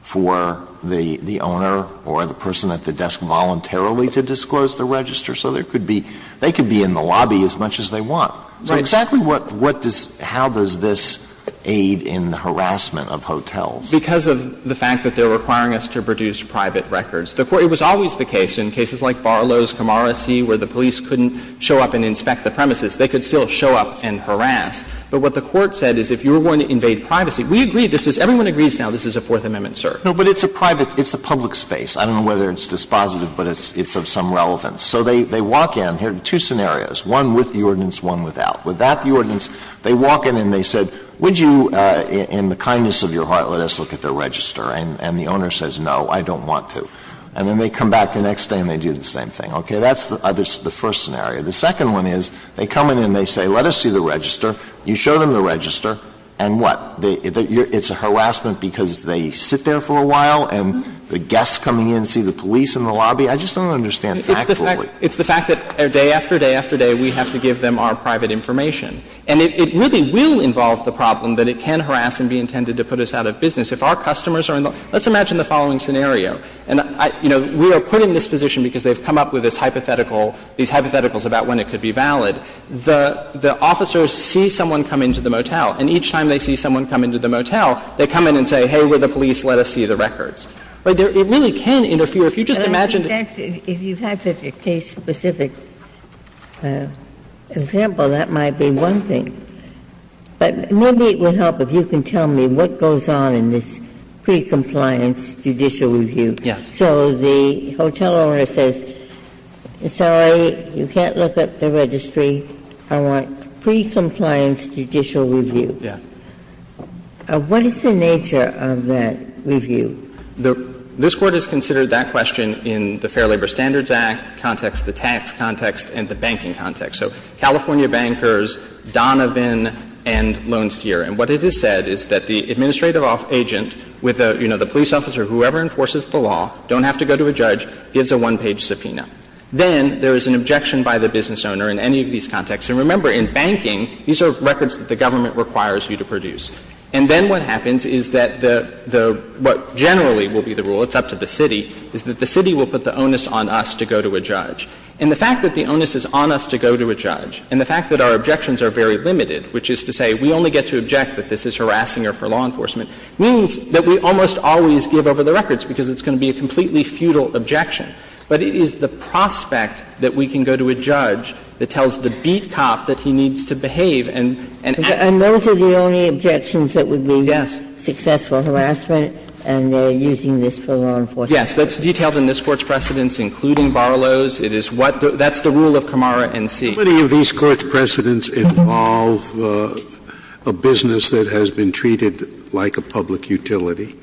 for the owner or the person at the desk voluntarily to disclose their register. So there could be — they could be in the lobby as much as they want. Goldstein Right. Alito So exactly what does — how does this aid in harassment of hotels? Goldstein Because of the fact that they're requiring us to produce private records. The Court — it was always the case, in cases like Barlow's, Camarasi, where the police couldn't show up and inspect the premises, they could still show up and harass. But what the Court said is if you were going to invade privacy, we agree this is — everyone agrees now this is a Fourth Amendment search. Alito No, but it's a private — it's a public space. I don't know whether it's dispositive, but it's of some relevance. So they walk in — here are two scenarios, one with the ordinance, one without. The first one is they come in and they say, let us see the register, you show them the register, and what? It's a harassment because they sit there for a while and the guests coming in see the police in the lobby? I just don't understand factfully. Goldstein It's the fact that day after day after day we have to give them our private information. And it really will involve the problem that it can harass and be intended to pose Now, that's not going to put us out of business. If our customers are in the — let's imagine the following scenario, and, you know, we are put in this position because they've come up with this hypothetical — these hypotheticals about when it could be valid. The officers see someone come into the motel, and each time they see someone come into the motel, they come in and say, hey, we're the police, let us see the records. It really can interfere. If you just imagine the case. Ginsburg But if you have a case-specific example, that might be one thing. But maybe it would help if you can tell me what goes on in this pre-compliance judicial review. Goldstein Yes. Ginsburg So the hotel owner says, sorry, you can't look up the registry. I want pre-compliance judicial review. Goldstein Yes. Ginsburg What is the nature of that review? Goldstein This Court has considered that question in the Fair Labor Standards Act context, the tax context, and the banking context. So California bankers, Donovan and Lone Steer. And what it has said is that the administrative agent with a, you know, the police officer, whoever enforces the law, don't have to go to a judge, gives a one-page subpoena. Then there is an objection by the business owner in any of these contexts. And remember, in banking, these are records that the government requires you to produce. And then what happens is that the — what generally will be the rule, it's up to the city, is that the city will put the onus on us to go to a judge. And the fact that the onus is on us to go to a judge, and the fact that our objections are very limited, which is to say we only get to object that this is harassing her for law enforcement, means that we almost always give over the records because it's going to be a completely futile objection. But it is the prospect that we can go to a judge that tells the beat cop that he needs to behave and act. And then there are other objections that would be successful harassment and using this for law enforcement. Yes. That's detailed in this Court's precedents, including Barlow's. It is what the — that's the rule of Camara N.C. How many of these Court's precedents involve a business that has been treated like a public utility?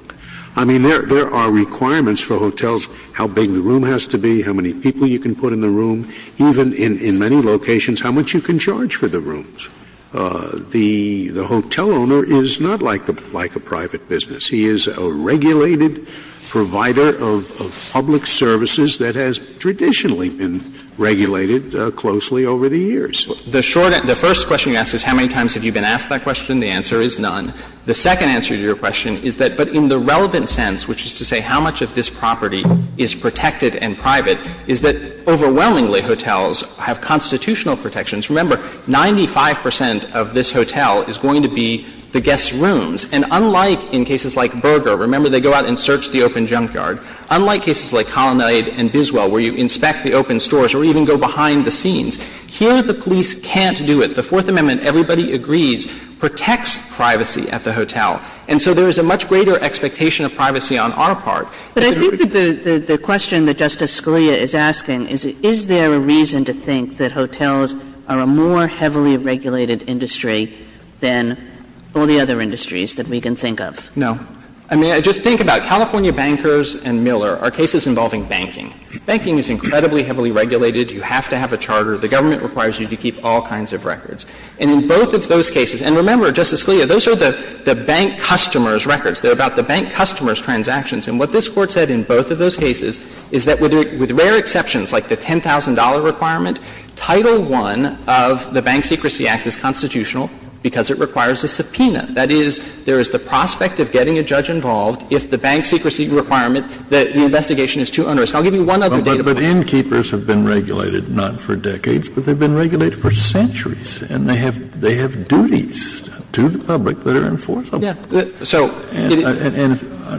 I mean, there are requirements for hotels, how big the room has to be, how many people you can put in the room. Even in many locations, how much you can charge for the rooms. The hotel owner is not like a private business. He is a regulated provider of public services that has traditionally been regulated closely over the years. The short answer — the first question you ask is how many times have you been asked that question. The answer is none. The second answer to your question is that, but in the relevant sense, which is to the extent that this property is protected and private, is that, overwhelmingly, hotels have constitutional protections. Remember, 95 percent of this hotel is going to be the guest rooms. And unlike in cases like Berger — remember, they go out and search the open junkyard — unlike cases like Colonnade and Biswell, where you inspect the open stores or even go behind the scenes, here the police can't do it. The Fourth Amendment, everybody agrees, protects privacy at the hotel. And so there is a much greater expectation of privacy on our part. But I think that the question that Justice Scalia is asking is, is there a reason to think that hotels are a more heavily regulated industry than all the other industries that we can think of? No. I mean, just think about California bankers and Miller are cases involving banking. Banking is incredibly heavily regulated. You have to have a charter. The government requires you to keep all kinds of records. And in both of those cases — and remember, Justice Scalia, those are the bank customer's records. They're about the bank customer's transactions. And what this Court said in both of those cases is that with rare exceptions, like the $10,000 requirement, Title I of the Bank Secrecy Act is constitutional because it requires a subpoena. That is, there is the prospect of getting a judge involved if the bank secrecy requirement that the investigation is too onerous. I'll give you one other data point. Kennedy. But innkeepers have been regulated not for decades, but they've been regulated for centuries, and they have duties to the public that are enforceable. Yeah. And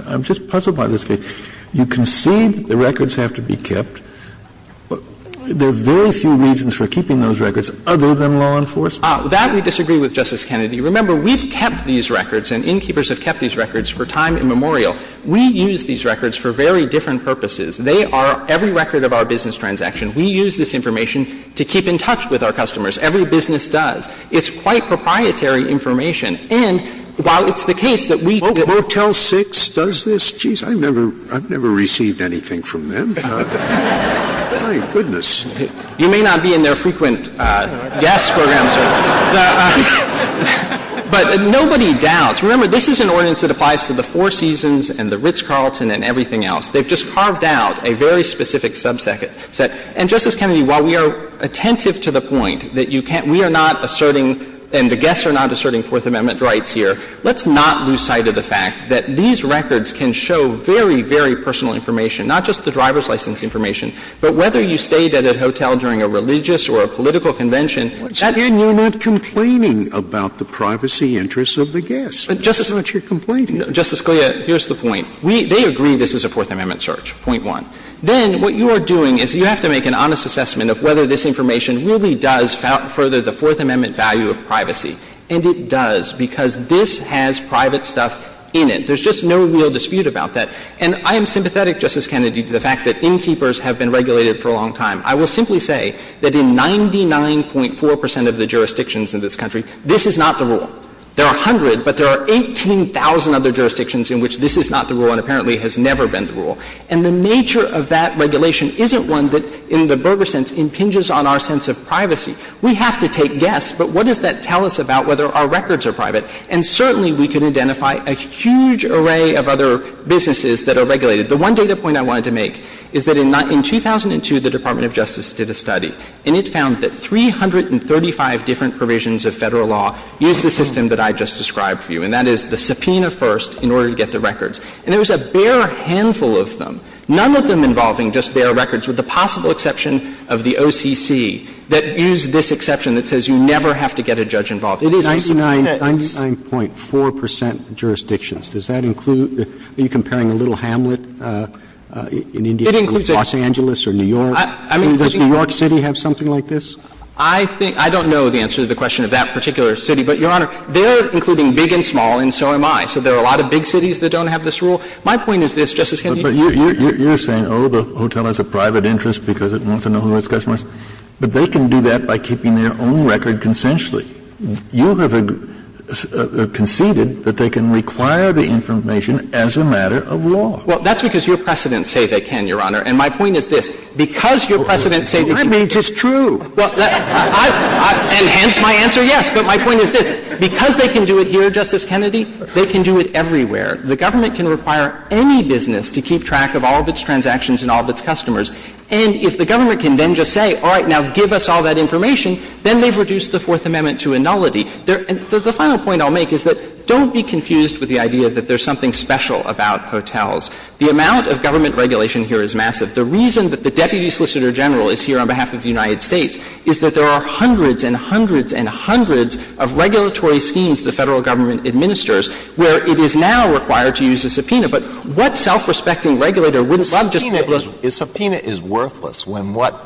I'm just puzzled by this case. You concede that the records have to be kept. There are very few reasons for keeping those records other than law enforcement. That we disagree with, Justice Kennedy. Remember, we've kept these records and innkeepers have kept these records for time immemorial. We use these records for very different purposes. They are every record of our business transaction. We use this information to keep in touch with our customers. Every business does. It's quite proprietary information. And while it's the case that we, that Motel 6 does this, geez, I've never received anything from them. My goodness. You may not be in their frequent guest program, sir. But nobody doubts. Remember, this is an ordinance that applies to the Four Seasons and the Ritz-Carlton and everything else. They've just carved out a very specific subset. And, Justice Kennedy, while we are attentive to the point that you can't – we are not asserting, and the guests are not asserting Fourth Amendment rights here, let's not lose sight of the fact that these records can show very, very personal information, not just the driver's license information, but whether you stayed at a hotel during a religious or a political convention. Scalia, here's the point. They agree this is a Fourth Amendment search, point one. Then what you are doing is you have to make an honest assessment of whether this is a Fourth Amendment value of privacy. And it does, because this has private stuff in it. There's just no real dispute about that. And I am sympathetic, Justice Kennedy, to the fact that innkeepers have been regulated for a long time. I will simply say that in 99.4 percent of the jurisdictions in this country, this is not the rule. There are 100, but there are 18,000 other jurisdictions in which this is not the rule and apparently has never been the rule. And the nature of that regulation isn't one that, in the Berger sense, impinges on our sense of privacy. We have to take guess, but what does that tell us about whether our records are private? And certainly we can identify a huge array of other businesses that are regulated. The one data point I wanted to make is that in 2002, the Department of Justice did a study, and it found that 335 different provisions of Federal law use the system that I just described for you, and that is the subpoena first in order to get the records. And there was a bare handful of them, none of them involving just bare records, with the possible exception of the OCC, that used this exception that says you never have to get a judge involved. It is a subpoena. It is. 99.4 percent jurisdictions. Does that include – are you comparing a little hamlet in India to Los Angeles or New York? I mean, does New York City have something like this? I think – I don't know the answer to the question of that particular city, but, Your Honor, they're including big and small and so am I. So there are a lot of big cities that don't have this rule. My point is this, Justice Kennedy. But you're saying, oh, the hotel has a private interest because it wants to know who its customers are. But they can do that by keeping their own record consensually. You have conceded that they can require the information as a matter of law. Well, that's because your precedents say they can, Your Honor. And my point is this. Because your precedents say that you can't do it here, Justice Kennedy, they can do it everywhere. I mean, it's true. And hence my answer, yes. But my point is this. Because they can do it here, Justice Kennedy, they can do it everywhere. The government can require any business to keep track of all of its transactions and all of its customers. And if the government can then just say, all right, now give us all that information, then they've reduced the Fourth Amendment to a nullity. The final point I'll make is that don't be confused with the idea that there's something special about hotels. The amount of government regulation here is massive. The reason that the deputy solicitor general is here on behalf of the United States is that there are hundreds and hundreds and hundreds of regulatory schemes the Federal Government administers where it is now required to use a subpoena. But what self-respecting regulator wouldn't love just to be able to do that? Alitono, your subpoena is worthless when what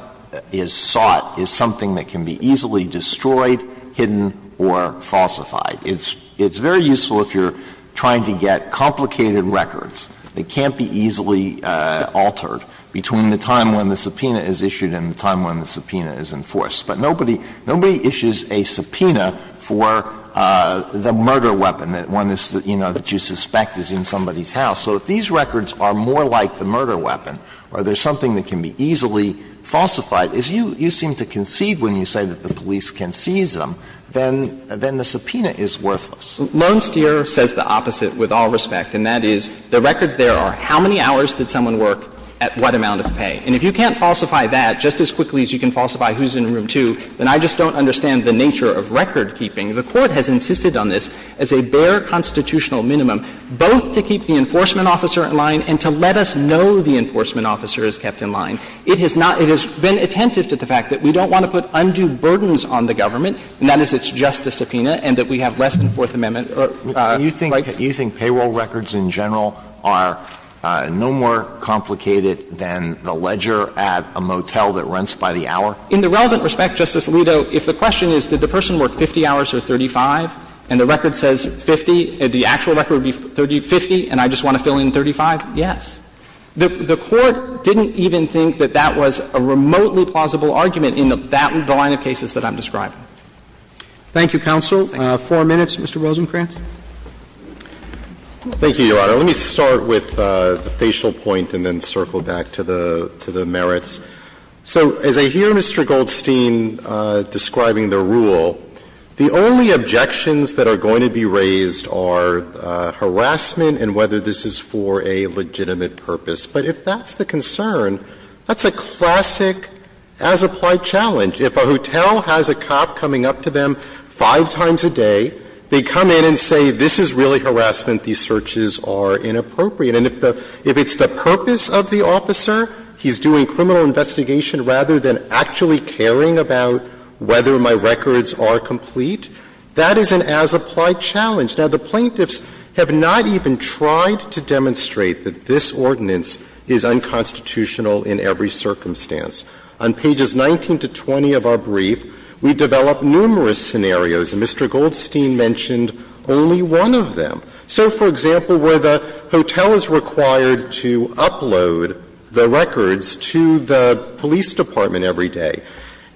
is sought is something that can be easily destroyed, hidden, or falsified. It's very useful if you're trying to get complicated records that can't be easily altered between the time when the subpoena is issued and the time when the subpoena is enforced. But nobody issues a subpoena for the murder weapon that one is, you know, that you suspect is in somebody's house. So if these records are more like the murder weapon or there's something that can be easily falsified, as you seem to concede when you say that the police can seize them, then the subpoena is worthless. Lone steer says the opposite with all respect, and that is the records there are how many hours did someone work at what amount of pay. And if you can't falsify that just as quickly as you can falsify who's in Room 2, then I just don't understand the nature of recordkeeping. The Court has insisted on this as a bare constitutional minimum, both to keep the enforcement officer in line and to let us know the enforcement officer is kept in line. It has not been attentive to the fact that we don't want to put undue burdens on the government, and that is it's just a subpoena, and that we have less than Fourth Amendment rights. Alito, do you think payroll records in general are no more complicated than the ledger at a motel that rents by the hour? In the relevant respect, Justice Alito, if the question is did the person work 50 hours or 35, and the record says 50, the actual record would be 50, and I just want to fill in 35, yes. The Court didn't even think that that was a remotely plausible argument in the line of cases that I'm describing. Thank you, counsel. Four minutes, Mr. Rosenkranz. Thank you, Your Honor. Let me start with the facial point and then circle back to the merits. So as I hear Mr. Goldstein describing the rule, the only objections that are going to be raised are harassment and whether this is for a legitimate purpose. But if that's the concern, that's a classic as-applied challenge. If a hotel has a cop coming up to them five times a day, they come in and say, this is really harassment, these searches are inappropriate. And if the – if it's the purpose of the officer, he's doing criminal investigation rather than actually caring about whether my records are complete, that is an as-applied challenge. Now, the plaintiffs have not even tried to demonstrate that this ordinance is unconstitutional in every circumstance. On pages 19 to 20 of our brief, we develop numerous scenarios, and Mr. Goldstein mentioned only one of them. So, for example, where the hotel is required to upload the records to the police department every day,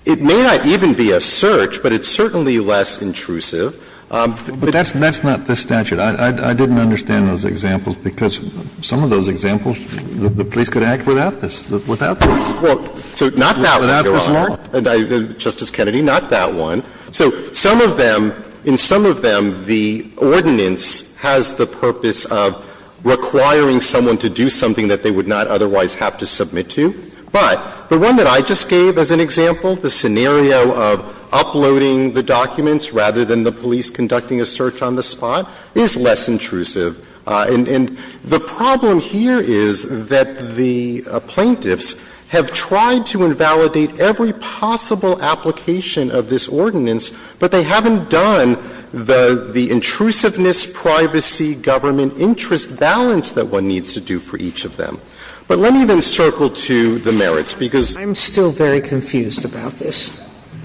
it may not even be a search, but it's certainly less intrusive. But that's not the statute. I didn't understand those examples, because some of those examples, the police could act without this, without this. Well, so not that one, Your Honor, and Justice Kennedy, not that one. So some of them, in some of them, the ordinance has the purpose of requiring someone to do something that they would not otherwise have to submit to. But the one that I just gave as an example, the scenario of uploading the documents rather than the police conducting a search on the spot, is less intrusive. And the problem here is that the plaintiffs have tried to invalidate every possible application of this ordinance, but they haven't done the intrusiveness, privacy, government interest balance that one needs to do for each of them. But let me then circle to the merits, because I'm still very confused about this. I'm confused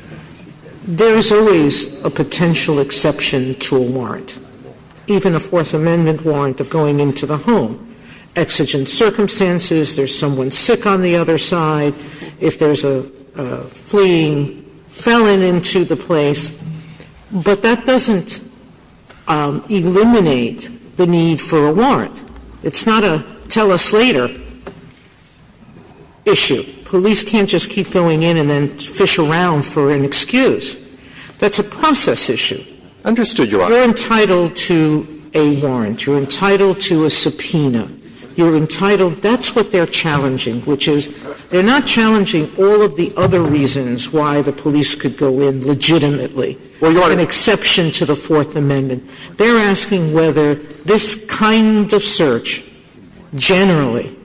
about the merits of a warrant, even a Fourth Amendment warrant, of going into the home. Exigent circumstances, there's someone sick on the other side, if there's a fleeing felon into the place, but that doesn't eliminate the need for a warrant. It's not a tell-us-later issue. Police can't just keep going in and then fish around for an excuse. That's a process issue. Understood, Your Honor. You're entitled to a warrant. You're entitled to a subpoena. You're entitled — that's what they're challenging, which is, they're not challenging all of the other reasons why the police could go in legitimately, with the exception to the Fourth Amendment. They're asking whether this kind of search, generally,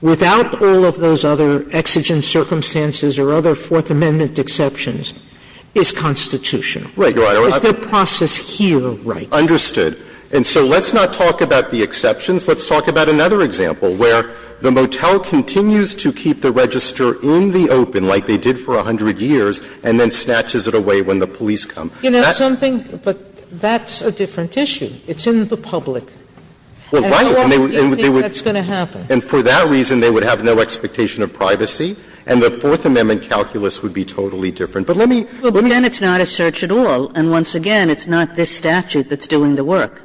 without all of those other exigent circumstances or other Fourth Amendment exceptions, is constitutional. Right, Your Honor. Is the process here right? Understood. And so let's not talk about the exceptions. Let's talk about another example, where the motel continues to keep the register in the open, like they did for 100 years, and then snatches it away when the police come. You know something? But that's a different issue. It's in the public. Well, right. And they would — And how long do you think that's going to happen? And for that reason, they would have no expectation of privacy, and the Fourth Amendment calculus would be totally different. But let me — But then it's not a search at all. And once again, it's not this statute that's doing the work.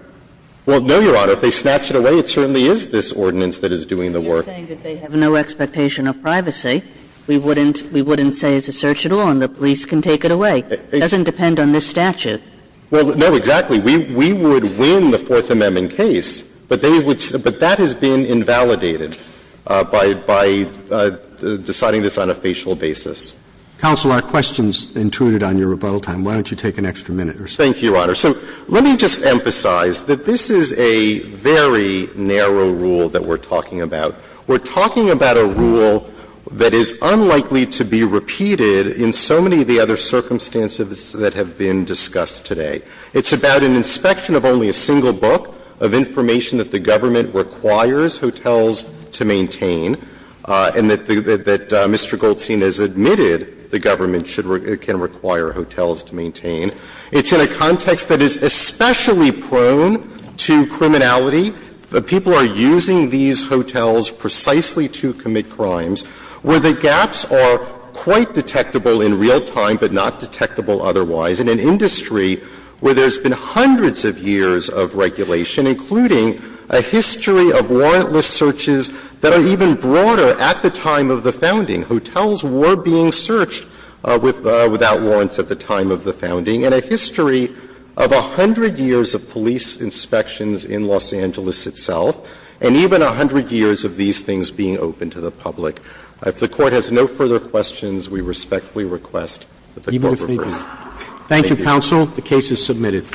Well, no, Your Honor. If they snatch it away, it certainly is this ordinance that is doing the work. You're saying that they have no expectation of privacy. We wouldn't — we wouldn't say it's a search at all and the police can take it away. It doesn't depend on this statute. Well, no, exactly. We would win the Fourth Amendment case, but they would — but that has been invalidated by deciding this on a facial basis. Counsel, our question is intuited on your rebuttal time. Why don't you take an extra minute or so? Thank you, Your Honor. So let me just emphasize that this is a very narrow rule that we're talking about. We're talking about a rule that is unlikely to be repeated in so many of the other circumstances that have been discussed today. It's about an inspection of only a single book of information that the government requires hotels to maintain and that Mr. Goldstein has admitted the government should — can require hotels to maintain. It's in a context that is especially prone to criminality. People are using these hotels precisely to commit crimes where the gaps are quite detectable in real time, but not detectable otherwise. In an industry where there's been hundreds of years of regulation, including a history of warrantless searches that are even broader at the time of the founding, hotels were being searched without warrants at the time of the founding, and a history of a hundred years of police inspections in Los Angeles itself, and even a hundred years of these things being open to the public. If the Court has no further questions, we respectfully request that the Court reverse. Thank you, Counsel. The case is submitted.